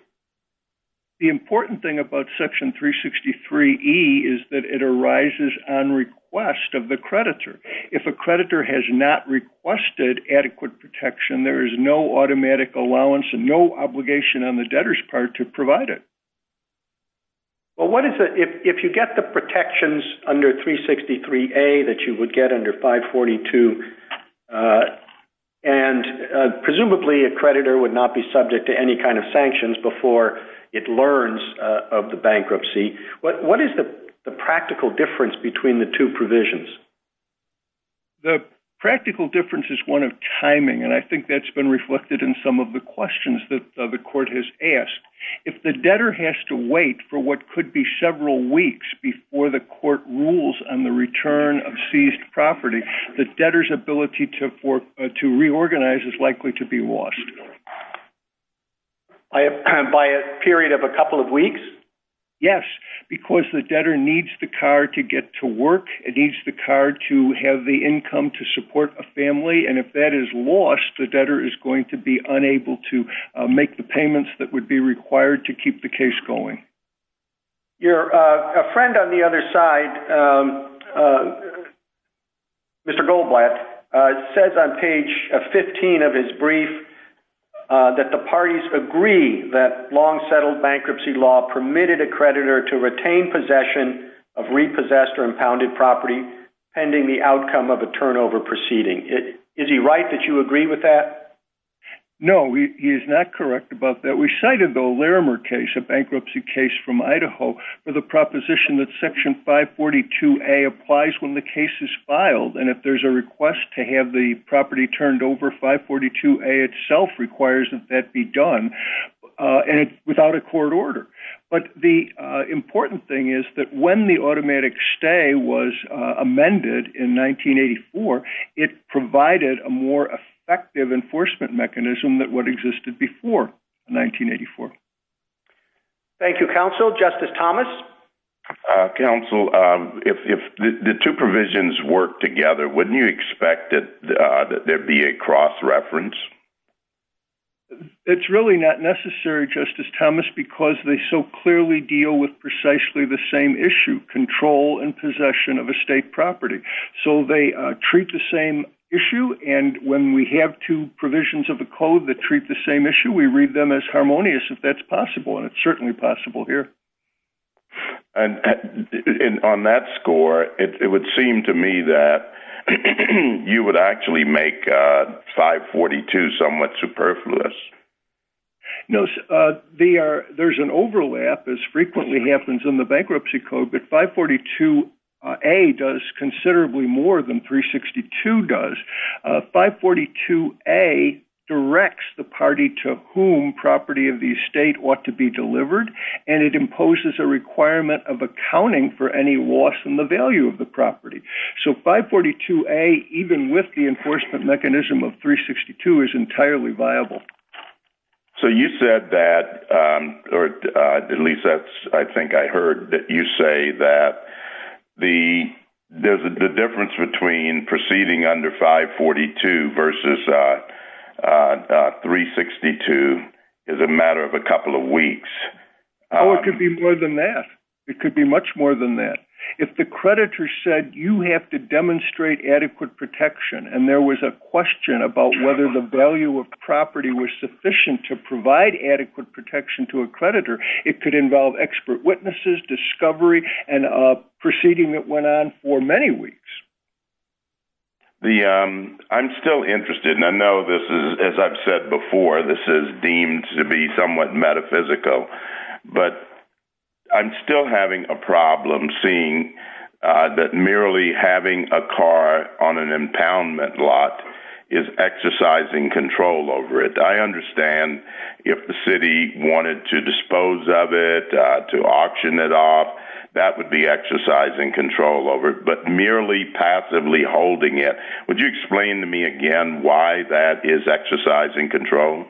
The important thing about Section 363E is that it arises on request of the creditor. If a creditor has not requested adequate protection, there is no automatic allowance and no obligation on the debtor's part to provide it. Well, what if you get the protections under 363A that you would get under 542, and presumably a creditor would not be subject to any kind of sanctions before it learns of the bankruptcy. What is the practical difference between the two provisions? The practical difference is one of timing, and I think that's been reflected in some of the questions that the court has asked. If the debtor has to wait for what could be on the return of seized property, the debtor's ability to reorganize is likely to be lost. By a period of a couple of weeks? Yes, because the debtor needs the card to get to work. It needs the card to have the income to support a family, and if that is lost, the debtor is going to be unable to make the payments that would be required to keep the case going. Your friend on the other side, Mr. Goldblatt, says on page 15 of his brief that the parties agree that long-settled bankruptcy law permitted a creditor to retain possession of repossessed or impounded property pending the outcome of a turnover proceeding. Is he right that you agree with that? No, he is not correct about that. We cited the O'Leary case, a bankruptcy case from Idaho, with a proposition that section 542A applies when the case is filed, and if there's a request to have the property turned over, 542A itself requires that that be done without a court order. But the important thing is that when the automatic stay was amended in 1984, it provided a more effective enforcement mechanism than what existed before 1984. Thank you, Counsel. Justice Thomas? Counsel, if the two provisions work together, wouldn't you expect that there'd be a cross reference? It's really not necessary, Justice Thomas, because they so clearly deal with precisely the same issue, control and possession of estate property. So they treat the same issue, and when we have two provisions of a code that treat the same issue, we read them as possible, and it's certainly possible here. And on that score, it would seem to me that you would actually make 542 somewhat superfluous. No, there's an overlap, as frequently happens in the bankruptcy code, but 542A does considerably more than 362 does. 542A directs the party to whom property of the estate ought to be delivered, and it imposes a requirement of accounting for any loss in the value of the property. So 542A, even with the enforcement mechanism of 362, is entirely viable. So you said that, or at least I think I heard you say that the difference between proceeding under 542 versus 362 is a matter of a couple of weeks. Oh, it could be more than that. It could be much more than that. If the creditor said, you have to demonstrate adequate protection, and there was a question about whether the value of property was sufficient to provide adequate protection to a creditor, it could involve expert witnesses, discovery, and a proceeding that went on for many weeks. I'm still interested, and I know this is, as I've said before, this is deemed to be somewhat metaphysical, but I'm still having a problem seeing that merely having a car on an impoundment lot is exercising control over it. I understand if the city wanted to dispose of it to auction it off, that would be exercising control over it, but merely passively holding it. Would you explain to me again why that is exercising control?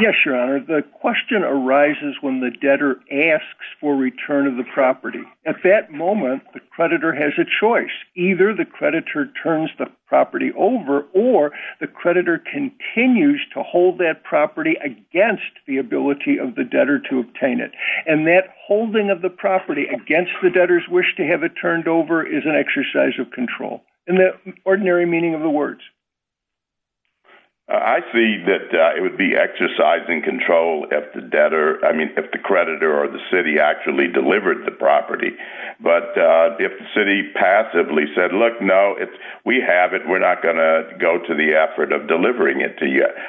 Yes, Your Honor. The question arises when the debtor asks for return of the property. At that or the creditor continues to hold that property against the ability of the debtor to obtain it, and that holding of the property against the debtor's wish to have it turned over is an exercise of control, in the ordinary meaning of the words. I see that it would be exercising control if the creditor or the city actually delivered the property.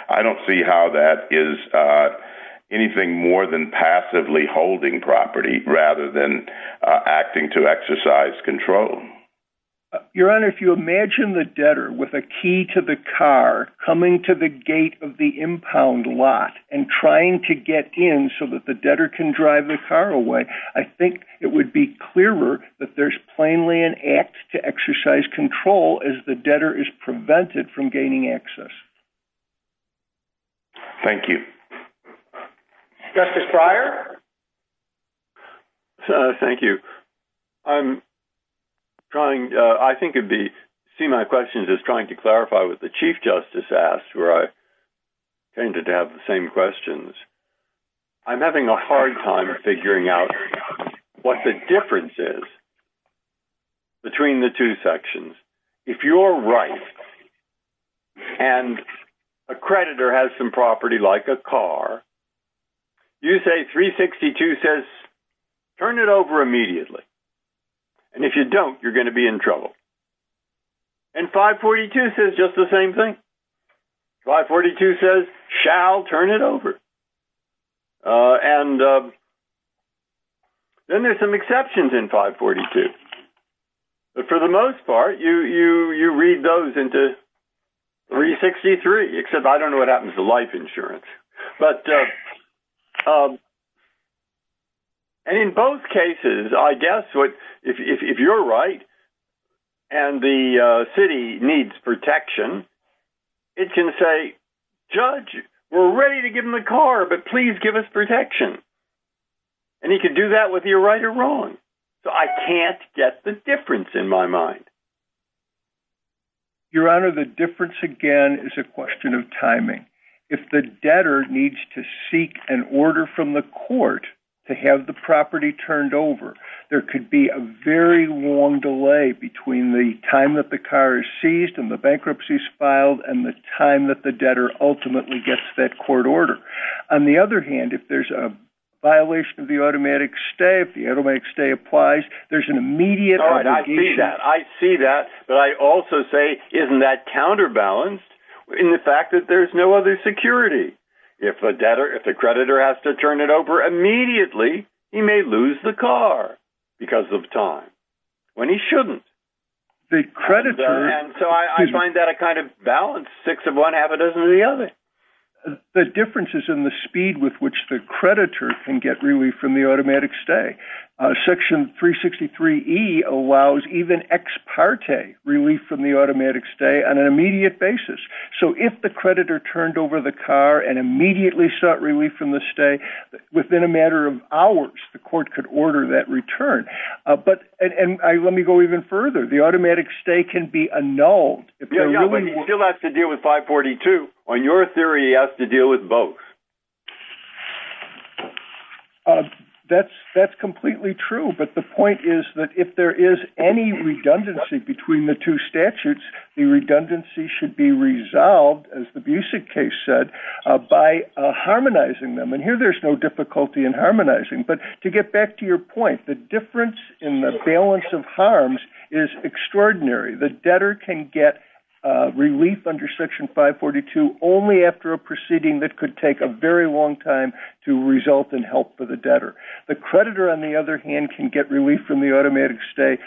I don't see how that is anything more than passively holding property rather than acting to exercise control. Your Honor, if you imagine the debtor with a key to the car coming to the gate of the impound lot and trying to get in so that the debtor can drive the car away, I think it would be clearer that there's plainly an act to exercise control as the debtor is prevented from gaining access. Thank you. Justice Breyer? Thank you. I think my question is trying to clarify what the Chief Justice asked, where I tended to have the same questions. I'm having a hard time figuring out what the difference is between the two sections. If you're right, and a creditor has some property like a car, you say 362 says, turn it over immediately. And if you don't, you're going to be in trouble. And 542 says just the same thing. 542 says shall turn it over. And then there's some exceptions in 542. But for the most part, you read those into 363, except I don't know what happens to life insurance. But in both cases, I guess if you're right, and the city needs protection, it can say, Judge, we're ready to give him the car, but please give us protection. And he can do that with you right or wrong. So I can't get the difference in my mind. Your Honor, the difference again, is a question of timing. If the debtor needs to seek an order from the court to have the property turned over, there could be a very long delay between the time the car is seized and the bankruptcy is filed and the time that the debtor ultimately gets that court order. On the other hand, if there's a violation of the automatic stay, if the automatic stay applies, there's an immediate obligation. I see that. But I also say, isn't that counterbalanced in the fact that there's no other security? If a creditor has to turn it over immediately, he may lose the car because of time, when he shouldn't. And so I find that a kind of balanced fix of one habit over the other. The difference is in the speed with which the creditor can get relief from the automatic stay. Section 363E allows even ex parte relief from the automatic stay on an immediate basis. So if the creditor turned over the car and immediately sought relief from the stay, within a matter of hours, the court could order that return. And let me go even further. The automatic stay can be annulled. Yeah, but he still has to deal with 542. On your theory, he has to deal with both. That's completely true. But the point is that if there is any redundancy between the two statutes, the redundancy should be resolved, as the Busek case said, by harmonizing them. And here, there's no difficulty in harmonizing. But to get back to your point, the difference in the balance of harms is extraordinary. The debtor can get relief under Section 542 only after a proceeding that could take a very long time to result in help for the debtor. The creditor, on the other hand, can get relief from the automatic stay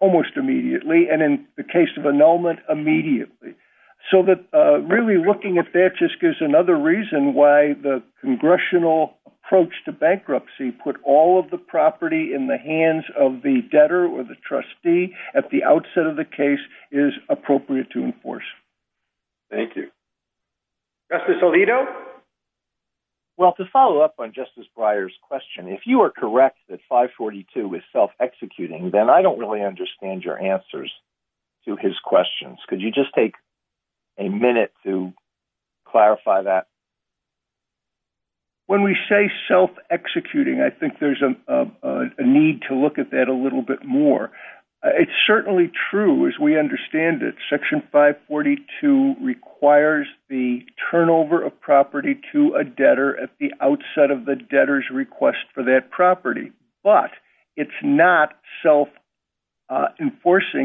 almost immediately, and in the case of annulment, immediately. So that really looking at that just gives another reason why the congressional approach to bankruptcy put all of the property in the hands of the debtor or the trustee at the outset of the case is appropriate to enforce. Thank you. Justice Alito? Well, to follow up on Justice Breyer's question, if you are correct that 542 is self-executing, then I don't really understand your answers to his questions. Could you just take a minute to clarify that? When we say self-executing, I think there's a need to look at that a little bit more. It's certainly true, as we understand it, Section 542 requires the turnover of property to a debtor at the outset of the debtor's request for that self-enforcing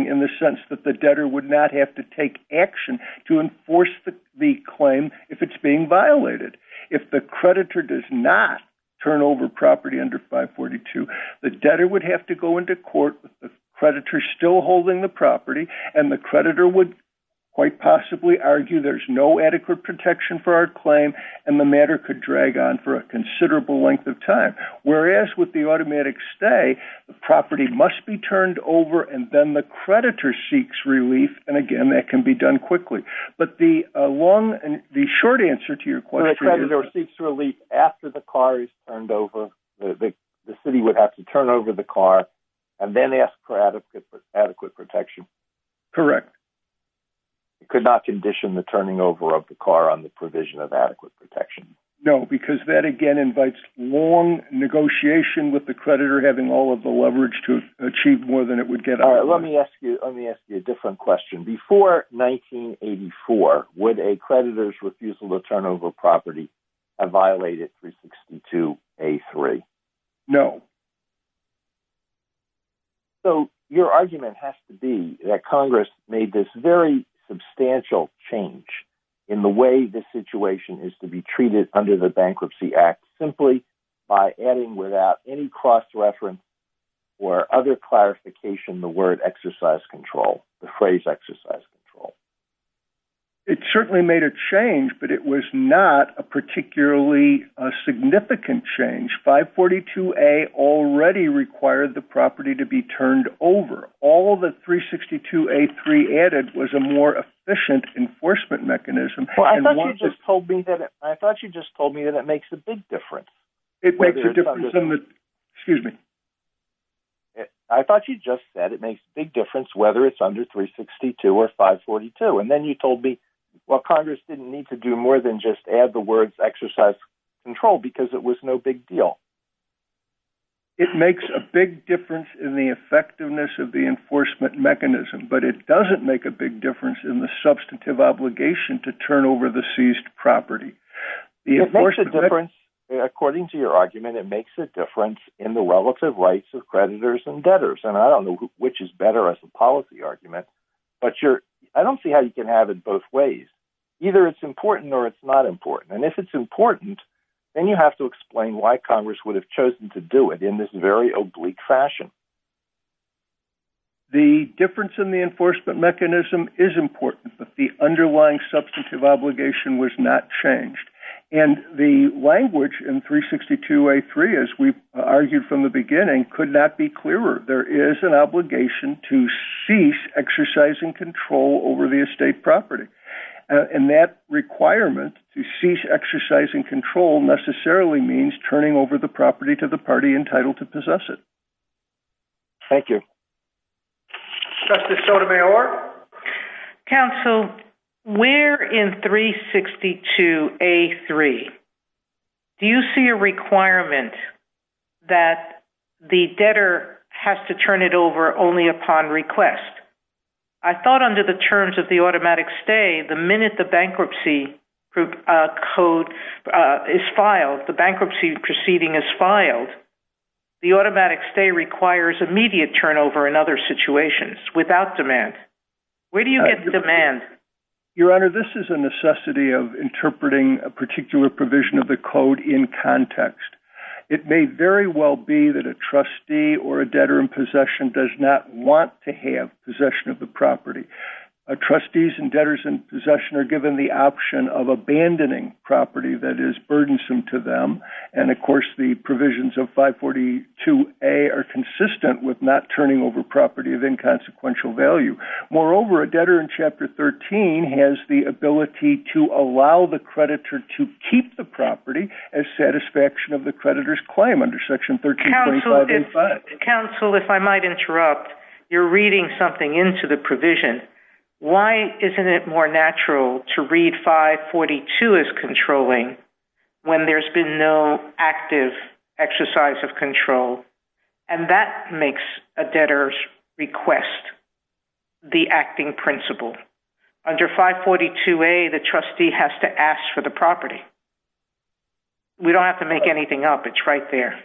in the sense that the debtor would not have to take action to enforce the claim if it's being violated. If the creditor does not turn over property under 542, the debtor would have to go into court with the creditor still holding the property, and the creditor would quite possibly argue there's no adequate protection for our claim, and the matter could drag on for a considerable length of time. Whereas with the automatic stay, the property must be turned over, and then the creditor seeks relief, and again that can be done quickly. But the long and the short answer to your question is... The creditor seeks relief after the car is turned over. The city would have to turn over the car and then ask for adequate protection. Correct. It could not condition the turning over of the car on the provision of adequate protection. No, because that again invites long negotiation with the creditor having all of the leverage to achieve more than it would get out. Let me ask you, let me ask you a different question. Before 1984, would a creditor's refusal to turn over property have violated 362A3? No. So your argument has to be that Congress made this very substantial change in the way this situation is to be treated under the Bankruptcy Act simply by adding without any cross-reference or other clarification the word exercise control, the phrase exercise control. It certainly made a change, but it was not a particularly significant change. 542A already required the property to be turned over. All that 362A3 added was a more efficient enforcement mechanism. I thought you just told me that it makes a big difference. It makes a difference. Excuse me. I thought you just said it makes a big difference whether it's under 362 or 542. And then you told me, well, Congress didn't need to do more than just add the words exercise control because it was no big deal. It makes a big difference in the effectiveness of the enforcement mechanism, but it doesn't make a big difference in the substantive obligation to turn over the seized property. It makes a difference. According to your argument, it makes a difference in the relative rights of creditors and debtors. And I don't know which is better as a policy argument, but I don't see how you can have it both ways. Either it's important or it's not important. And if it's important, then you have to explain why Congress would have chosen to do it in this very oblique fashion. The difference in the enforcement mechanism is important, but the underlying substantive obligation was not changed. And the language in 362A3, as we argued from the beginning, could not be clearer. There is an obligation to cease exercising control over the estate property. And that requirement to cease exercising control necessarily means turning over the property to the party entitled to possess it. Thank you. Justice Sotomayor. Council, where in 362A3 do you see a requirement that the debtor has to turn it over only upon request? I thought under the terms of the automatic stay, the minute the bankruptcy proceeding is filed, the automatic stay requires immediate turnover in other situations without demand. Where do you get the demand? Your Honor, this is a necessity of interpreting a particular provision of the code in context. It may very well be that a trustee or a debtor in possession does not want to have possession of the property. Trustees and debtors in possession are given the option of abandoning property that is burdensome to them. And of course, the provisions of 542A are consistent with not turning over property of inconsequential value. Moreover, a debtor in Chapter 13 has the ability to allow the creditor to keep the property as satisfaction of the creditor's claim under Section 1325A5. Council, if I might interrupt, you're reading something into the provision. Why isn't it more natural to read 542 as controlling when there's been no active exercise of control? And that makes a debtor's request the acting principle. Under 542A, the trustee has to property. We don't have to make anything up. It's right there.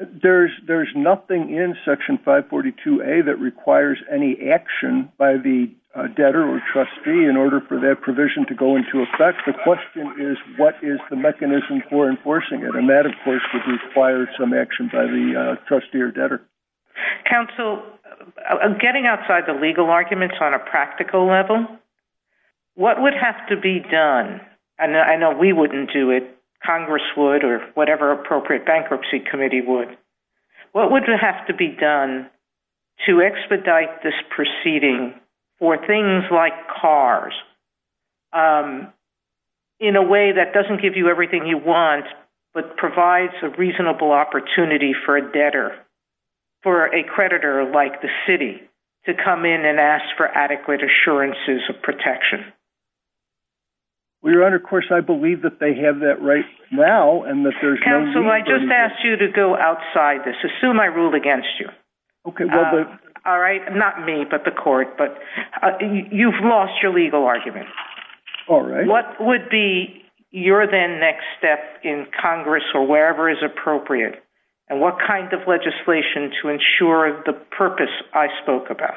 There's nothing in Section 542A that requires any action by the debtor or trustee in order for that provision to go into effect. The question is, what is the mechanism for enforcing it? And that, of course, would require some action by the trustee or debtor. Council, getting outside the legal arguments on a practical level, what would have to be done? I know we wouldn't do it. Congress would or whatever appropriate bankruptcy committee would. What would have to be done to expedite this proceeding for things like cars in a way that doesn't give you everything you want but provides a reasonable opportunity for a debtor or a creditor like the city to come in and ask for adequate assurances of protection? Your Honor, of course, I believe that they have that right now. Council, I just asked you to go outside this. Assume I ruled against you. All right? Not me, but the court. You've lost your legal argument. All right. What would be your then next step in Congress or wherever is appropriate? And what kind of legislation to ensure the purpose I spoke about?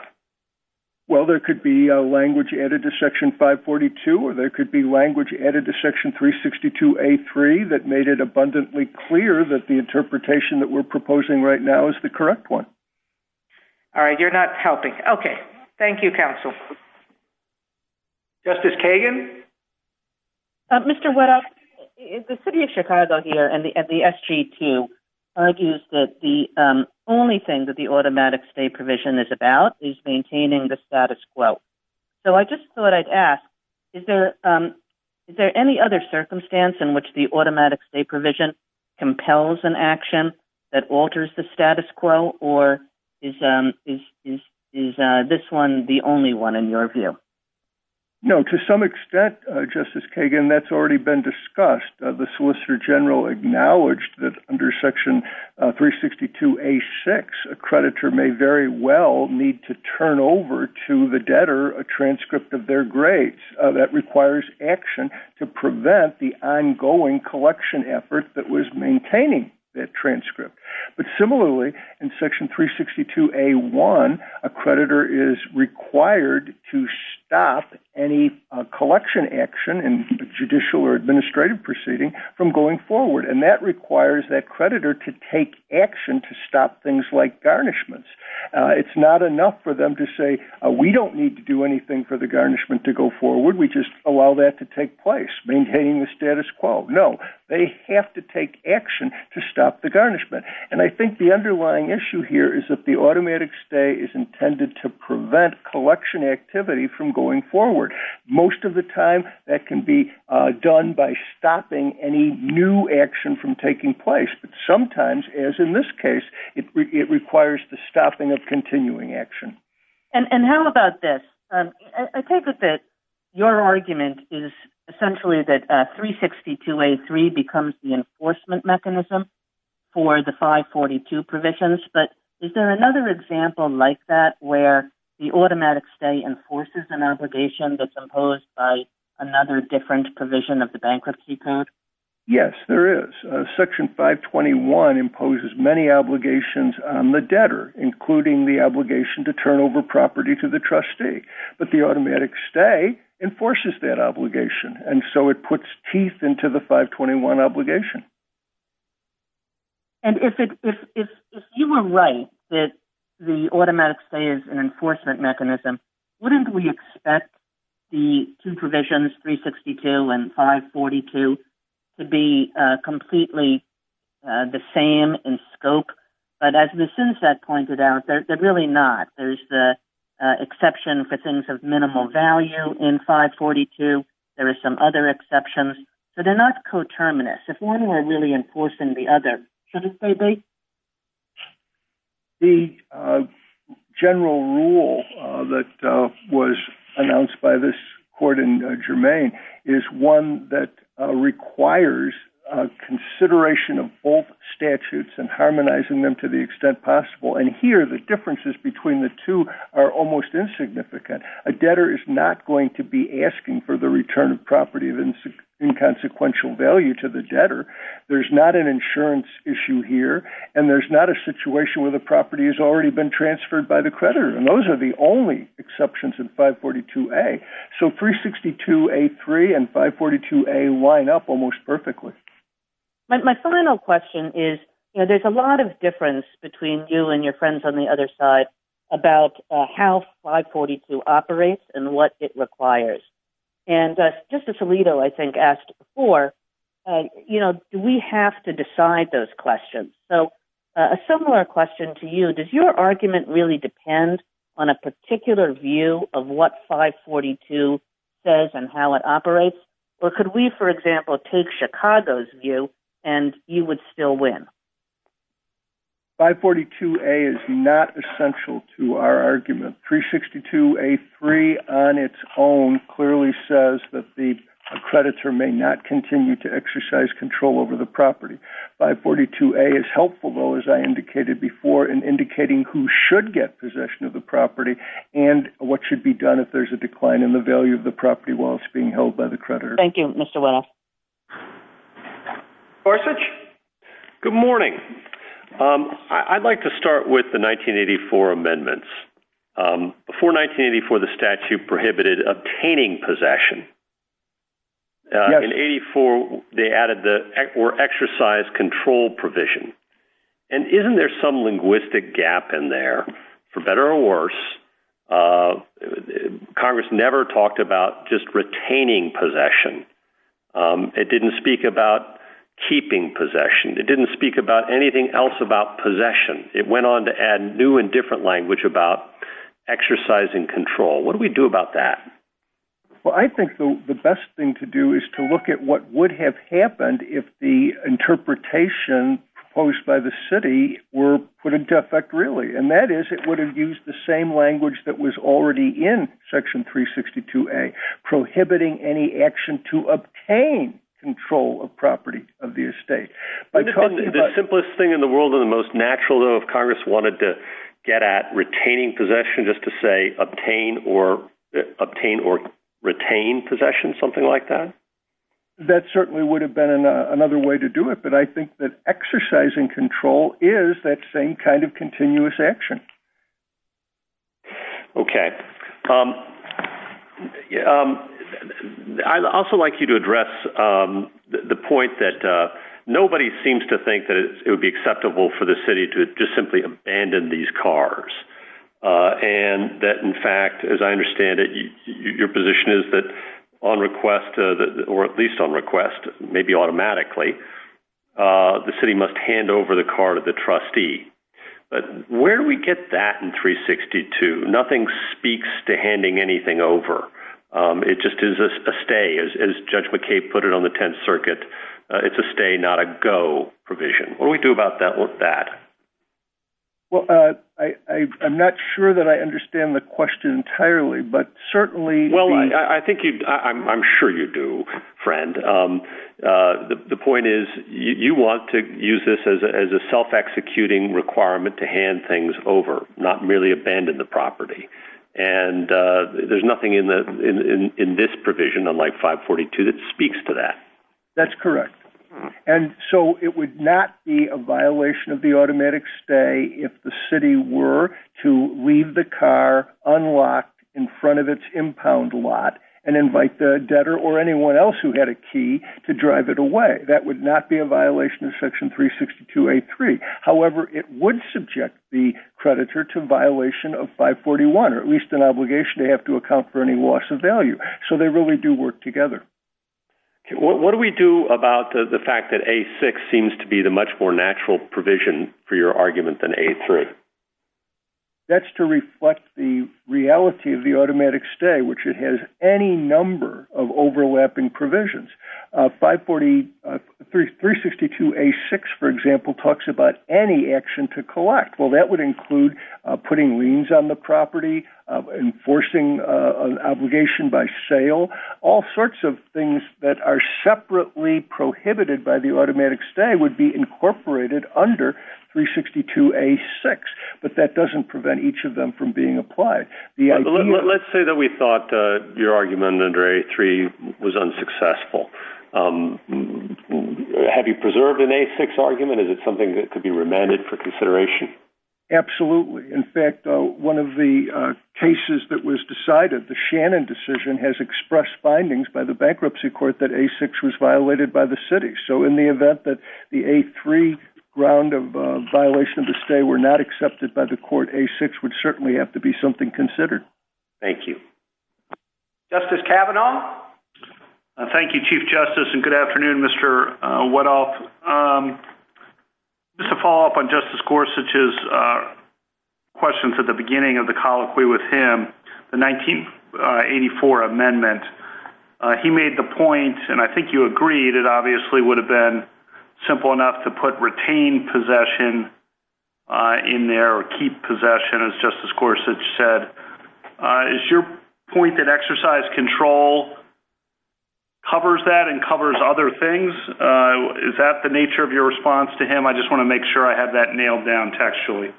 Well, there could be language added to Section 542 or there could be language added to Section 362A3 that made it abundantly clear that the interpretation that we're proposing right now is the correct one. All right. You're not helping. Okay. Thank you, counsel. Justice Kagan? Mr. Weddock, the city of Chicago here and the SG2 argues that the only thing that the automatic state provision is about is maintaining the status quo. So I just thought I'd ask, is there any other circumstance in which the automatic state provision compels an action that alters the status quo or is this one the only one in your view? No. To some extent, Justice Kagan, that's already been discussed. The Solicitor General acknowledged that under Section 362A6, a creditor may very well need to turn over to the debtor a transcript of their grades. That requires action to prevent the ongoing collection effort that was maintaining that transcript. But similarly, in Section 362A1, a creditor is required to stop any collection action in judicial or administrative proceeding from going forward. And that requires that creditor to take action to stop things like garnishments. It's not enough for them to say, we don't need to do anything for the garnishment to go forward. We just allow that to take place, maintaining the status quo. No, they have to take action to stop the garnishment. And I think the underlying issue here is that the automatic stay is intended to prevent collection activity from going forward. Most of the time, that can be done by stopping any new action from taking place. But sometimes, as in this case, it requires the stopping of continuing action. And how about this? I take it that your argument is essentially that 362A3 becomes the enforcement mechanism for the 542 provisions. But is there another example like that, where the automatic stay enforces an obligation that's imposed by another different provision of the bankruptcy code? Yes, there is. Section 521 imposes many obligations on the debtor, including the obligation to turn over property to the trustee. But the automatic stay enforces that obligation. And so it puts teeth into the 521 obligation. And if you were right that the automatic stay is an enforcement mechanism, wouldn't we expect the two provisions, 362 and 542, to be completely the same in scope? But as Ms. Sunset pointed out, they're really not. There's the exception for things of minimal value in 542. There are some other exceptions. But they're not coterminous. If one were really enforcing the other, should it be? The general rule that was announced by this court in Jermaine is one that requires consideration of both statutes and harmonizing them to the extent possible. And here, the differences between the two are almost insignificant. A debtor is not going to be asking for the return of property of inconsequential value to the debtor. There's not an insurance issue here. And there's not a situation where the property has already been transferred by the creditor. And those are the only exceptions in 542A. So 362A3 and 542A line up almost perfectly. My final question is, there's a lot of difference between you and your friends on the other side about how 542 operates and what it requires. And Justice Alito, I think, asked before, you know, do we have to decide those questions? So a similar question to you, does your argument really depend on a particular view of what 542 does and how it operates? Or could we, for example, take Chicago's view and you would still win? 542A is not essential to our argument. 362A3 on its own clearly says that the creditor may not continue to exercise control over the property. 542A is helpful, though, as I indicated before, in indicating who should get possession of the property and what should be done if there's a decline in the value of the property while it's being held by the creditor. Thank you, Mr. Well. Forsage? Good morning. I'd like to start with the 1984 amendments. Before 1984, the statute prohibited obtaining possession. In 84, they added the exercise control provision. And isn't there some linguistic gap in there, for better or worse? Congress never talked about just retaining possession. It didn't speak about keeping possession. It didn't speak about anything else about possession. It went on to add new and different language about exercising control. What do we do about that? Well, I think the best thing to do is to look at what would have happened if the interpretation proposed by the city were put into effect, really. And that is, it would have used the property of the estate. The simplest thing in the world or the most natural of Congress wanted to get at retaining possession, just to say obtain or obtain or retain possession, something like that? That certainly would have been another way to do it. But I think that exercising control is that same kind of continuous action. Okay. Yeah. I'd also like you to address the point that nobody seems to think that it would be acceptable for the city to just simply abandon these cars. And that, in fact, as I understand it, your position is that on request, or at least on request, maybe automatically, the city must hand over the car to the trustee. But where do we get that in 362? Nothing speaks to handing anything over. It just is a stay, as Judge McCabe put it on the 10th Circuit. It's a stay, not a go provision. What do we do about that? Well, I'm not sure that I understand the question entirely, but certainly- I'm sure you do, friend. The point is you want to use this as a self-executing requirement to hand things over, not merely abandon the property. And there's nothing in this provision, unlike 542, that speaks to that. That's correct. And so it would not be a violation of the automatic stay if the city were to leave the car unlocked in front of its impound lot and invite the debtor or anyone else who had a key to drive it away. That would not be a violation of Section 362A3. However, it would subject the creditor to violation of 541, or at least an obligation they have to account for any loss of value. So they really do work together. What do we do about the fact that A6 seems to be the much more natural provision for your argument than A3? That's to reflect the reality of the any number of overlapping provisions. 362A6, for example, talks about any action to collect. Well, that would include putting liens on the property, enforcing an obligation by sale, all sorts of things that are separately prohibited by the automatic stay would be incorporated under 362A6, but that doesn't prevent each of them from being applied. Let's say that we thought your argument under A3 was unsuccessful. Have you preserved an A6 argument? Is it something that could be remanded for consideration? Absolutely. In fact, one of the cases that was decided, the Shannon decision, has expressed findings by the bankruptcy court that A6 was violated by the city. So in the event that the A3 round of violation to stay were not accepted by the court, A6 would certainly have to be something considered. Thank you. Justice Kavanaugh? Thank you, Chief Justice, and good afternoon, Mr. Wadoff. Just to follow up on Justice Gorsuch's questions at the beginning of the colloquy with him, the 1984 amendment, he made the point, and I think you agreed, it obviously would have been simple enough to put retained possession in there, or keep possession, as Justice Gorsuch said. Is your point that exercise control covers that and covers other things? Is that the nature of your response to him? I just want to make sure I have that nailed down textually.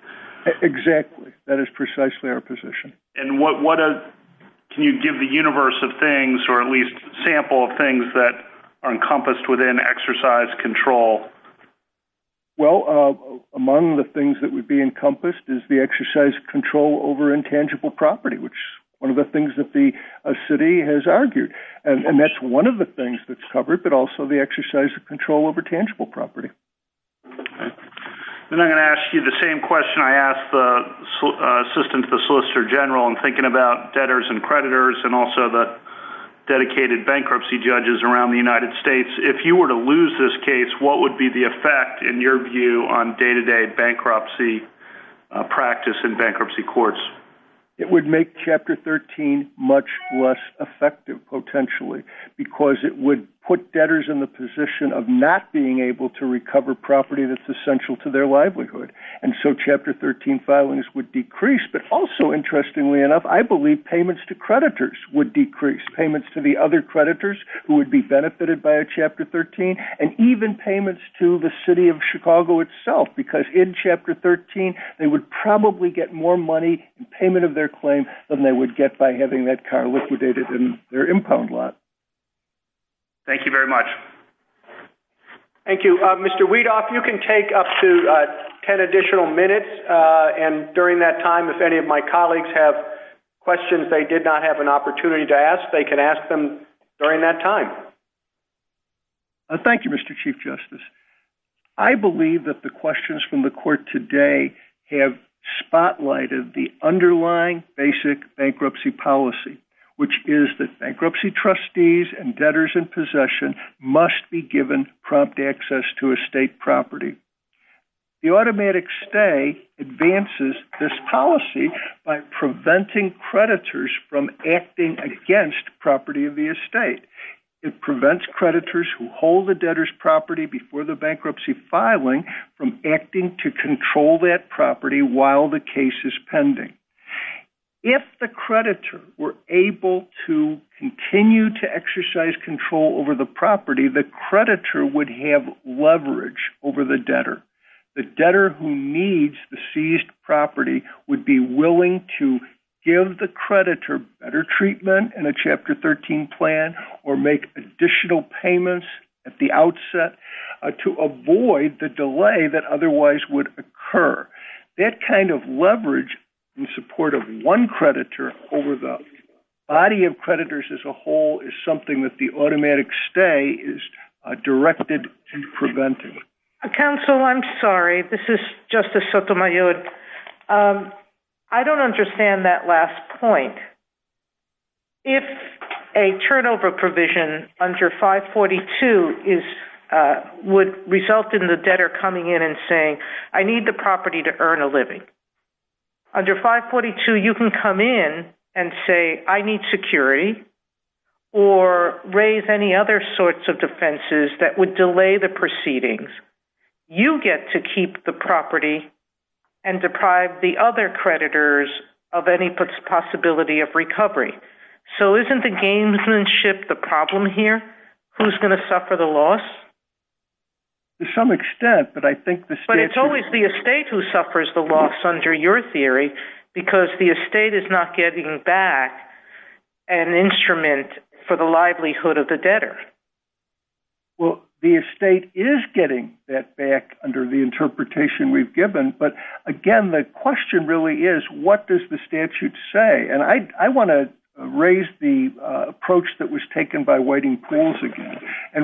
Exactly. That is precisely our position. Can you give the universe of things, or at least sample of things that are encompassed within exercise control? Well, among the things that would be encompassed is the exercise of control over intangible property, which is one of the things that the city has argued. And that's one of the things that's covered, but also the exercise of control over tangible property. Then I'm going to ask you the same question I asked the Assistant to the Solicitor General in thinking about debtors and creditors, and also the States. If you were to lose this case, what would be the effect, in your view, on day-to-day bankruptcy practice in bankruptcy courts? It would make Chapter 13 much less effective, potentially, because it would put debtors in the position of not being able to recover property that's essential to their livelihood. And so Chapter 13 filings would decrease, but also, interestingly enough, I believe payments to creditors would decrease. Payments to the other Chapter 13, and even payments to the City of Chicago itself, because in Chapter 13, they would probably get more money in payment of their claim than they would get by having that car liquidated in their impound lot. Thank you very much. Thank you. Mr. Weedoff, you can take up to 10 additional minutes, and during that time, if any of my colleagues have questions they did not have an opportunity to ask, they can ask them during that time. Thank you, Mr. Chief Justice. I believe that the questions from the Court today have spotlighted the underlying basic bankruptcy policy, which is that bankruptcy trustees and debtors in possession must be given prompt access to estate property. The automatic stay advances this policy by preventing creditors who hold the debtor's property before the bankruptcy filing from acting to control that property while the case is pending. If the creditor were able to continue to exercise control over the property, the creditor would have leverage over the debtor. The debtor who needs the seized property would be willing to give the creditor better treatment in a Chapter 13 plan or make additional payments at the outset to avoid the delay that otherwise would occur. That kind of leverage in support of one creditor over the body of creditors as a whole is something that the automatic stay is directed to prevent. Counsel, I'm sorry. This is if a turnover provision under 542 would result in the debtor coming in and saying, I need the property to earn a living. Under 542, you can come in and say, I need security or raise any other sorts of defenses that would delay the proceedings. You get to keep the property. Isn't the gamesmanship the problem here? Who's going to suffer the loss? To some extent. It's always the estate who suffers the loss under your theory because the estate is not getting back an instrument for the livelihood of the debtor. The estate is getting that back under the interpretation we've given, but again, the question really is, what does the statute say? I want to raise the approach that was taken by Whiting-Pools again.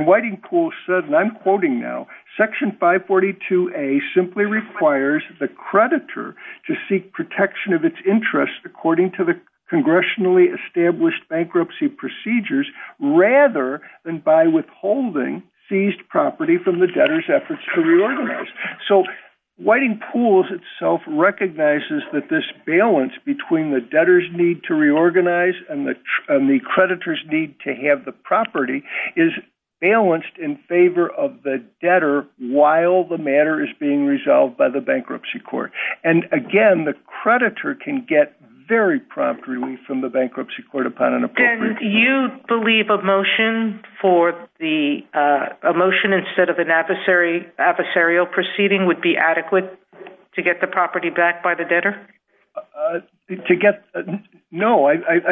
Whiting-Pools said, and I'm quoting now, Section 542A simply requires the creditor to seek protection of its interest according to the congressionally established bankruptcy procedures rather than by withholding seized property from the debtor's efforts to get it back. Whiting-Pools recognizes that this balance between the debtor's need to reorganize and the creditor's need to have the property is balanced in favor of the debtor while the matter is being resolved by the bankruptcy court. And again, the creditor can get very prompt relief from the bankruptcy court upon an appropriate... And you believe a motion instead of an adversarial proceeding would be adequate to get the property back by the debtor? To get... No,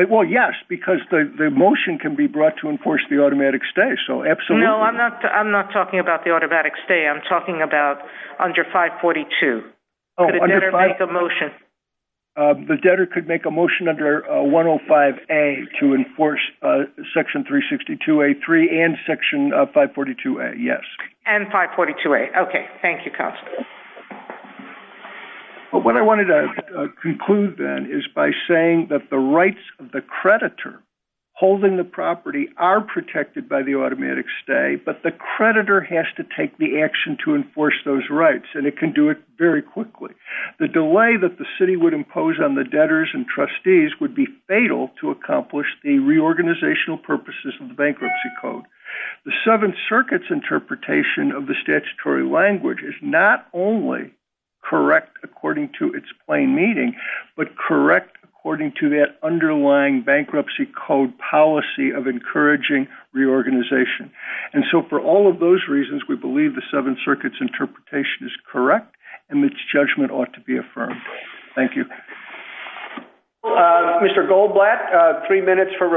well, yes, because the motion can be brought to enforce the automatic stay, so absolutely. No, I'm not talking about the automatic stay. I'm talking about under 542. The debtor could make a motion. The debtor could make a motion under 105A to enforce Section 362A3 and Section 542A, yes. And 542A. Okay, thank you, Counselor. But what I wanted to conclude then is by saying that the rights of the creditor holding the property are protected by the automatic stay, but the creditor has to take the action to enforce those rights, and it can do it very quickly. The delay that the city would impose on the debtors and trustees would be fatal to accomplish the reorganizational purposes of the bankruptcy code. The Seventh Circuit's interpretation of the statutory language is not only correct according to its plain meaning, but correct according to that underlying bankruptcy code policy of encouraging reorganization. And so for all of those reasons, we believe the Seventh Circuit's interpretation is correct and its judgment ought to be affirmed. Thank you. Mr. Goldblatt, three minutes for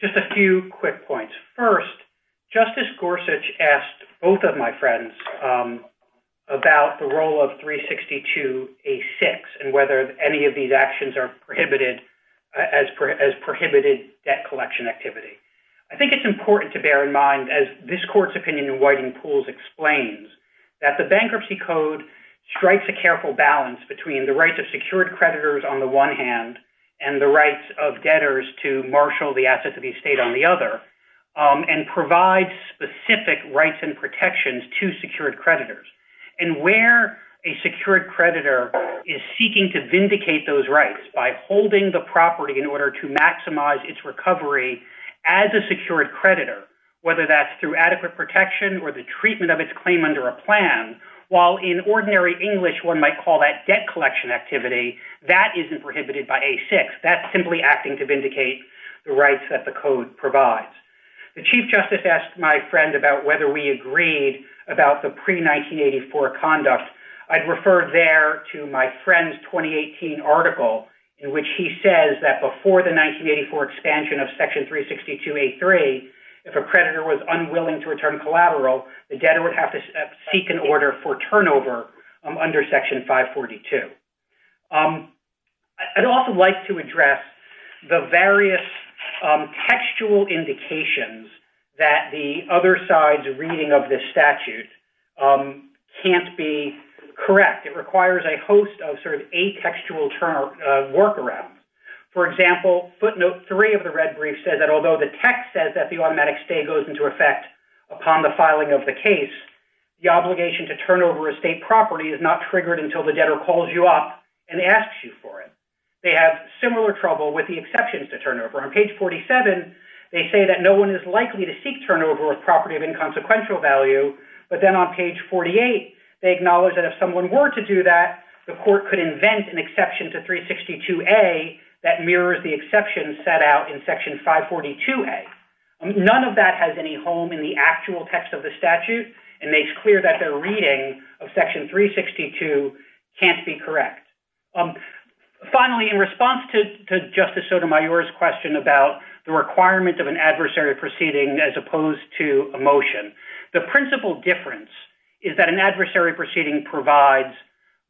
just a few quick points. First, Justice Gorsuch asked both of my friends about the role of 362A6 and whether any of these actions are prohibited as prohibited debt collection activity. I think it's important to bear in mind, as this court's opinion in Whiting-Pools explains, that the bankruptcy code strikes a careful balance between the rights of debtors to marshal the assets of the estate on the other and provides specific rights and protections to secured creditors. And where a secured creditor is seeking to vindicate those rights by holding the property in order to maximize its recovery as a secured creditor, whether that's through adequate protection or the treatment of its claim under a plan, while in ordinary English one might call that debt collection activity, that isn't prohibited by A6. That's simply acting to vindicate the rights that the code provides. The Chief Justice asked my friend about whether we agreed about the pre-1984 conduct. I'd refer there to my friend's 2018 article in which he says that before the 1984 expansion of Section 362A3, if a creditor was unwilling to return collateral, the debtor would have to seek an order for turnover under Section 542. I'd also like to address the various textual indications that the other side's reading of this statute can't be correct. It requires a host of sort of atextual workarounds. For example, footnote 3 of the red brief says that although the text says that the automatic stay goes into effect upon the filing of the case, the obligation to turn over a state property is not triggered until the debtor calls you up and asks you for it. They have similar trouble with the exceptions to turnover. On page 47, they say that no one is likely to seek turnover of property of inconsequential value, but then on page 48, they acknowledge that if someone were to do that, the court could invent an exception to 362A that mirrors the exception set out in Section 542A. None of that has any home in the actual text of the statute and makes clear that their reading of Section 362 can't be correct. Finally, in response to Justice Sotomayor's question about the requirement of an adversary proceeding as opposed to a motion, the principal difference is that an adversary proceeding provides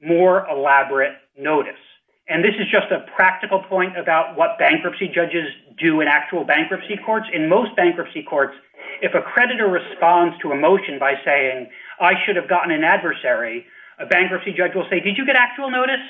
more elaborate notice. And this is just a practical point about what bankruptcy judges do in actual bankruptcy courts. In most bankruptcy courts, if a creditor responds to a motion by saying, I should have gotten an adversary, a bankruptcy judge will say, did you get actual notice?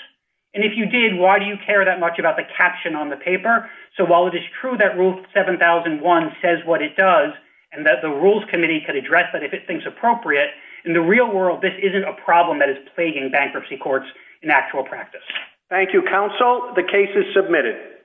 And if you did, why do you care that much about the caption on the paper? So while it is true that Rule 7001 says what it does and that the Rules Committee can address that if it thinks appropriate, in the real world, this isn't a problem that is plaguing bankruptcy courts in actual practice. Thank you, counsel. The case is submitted.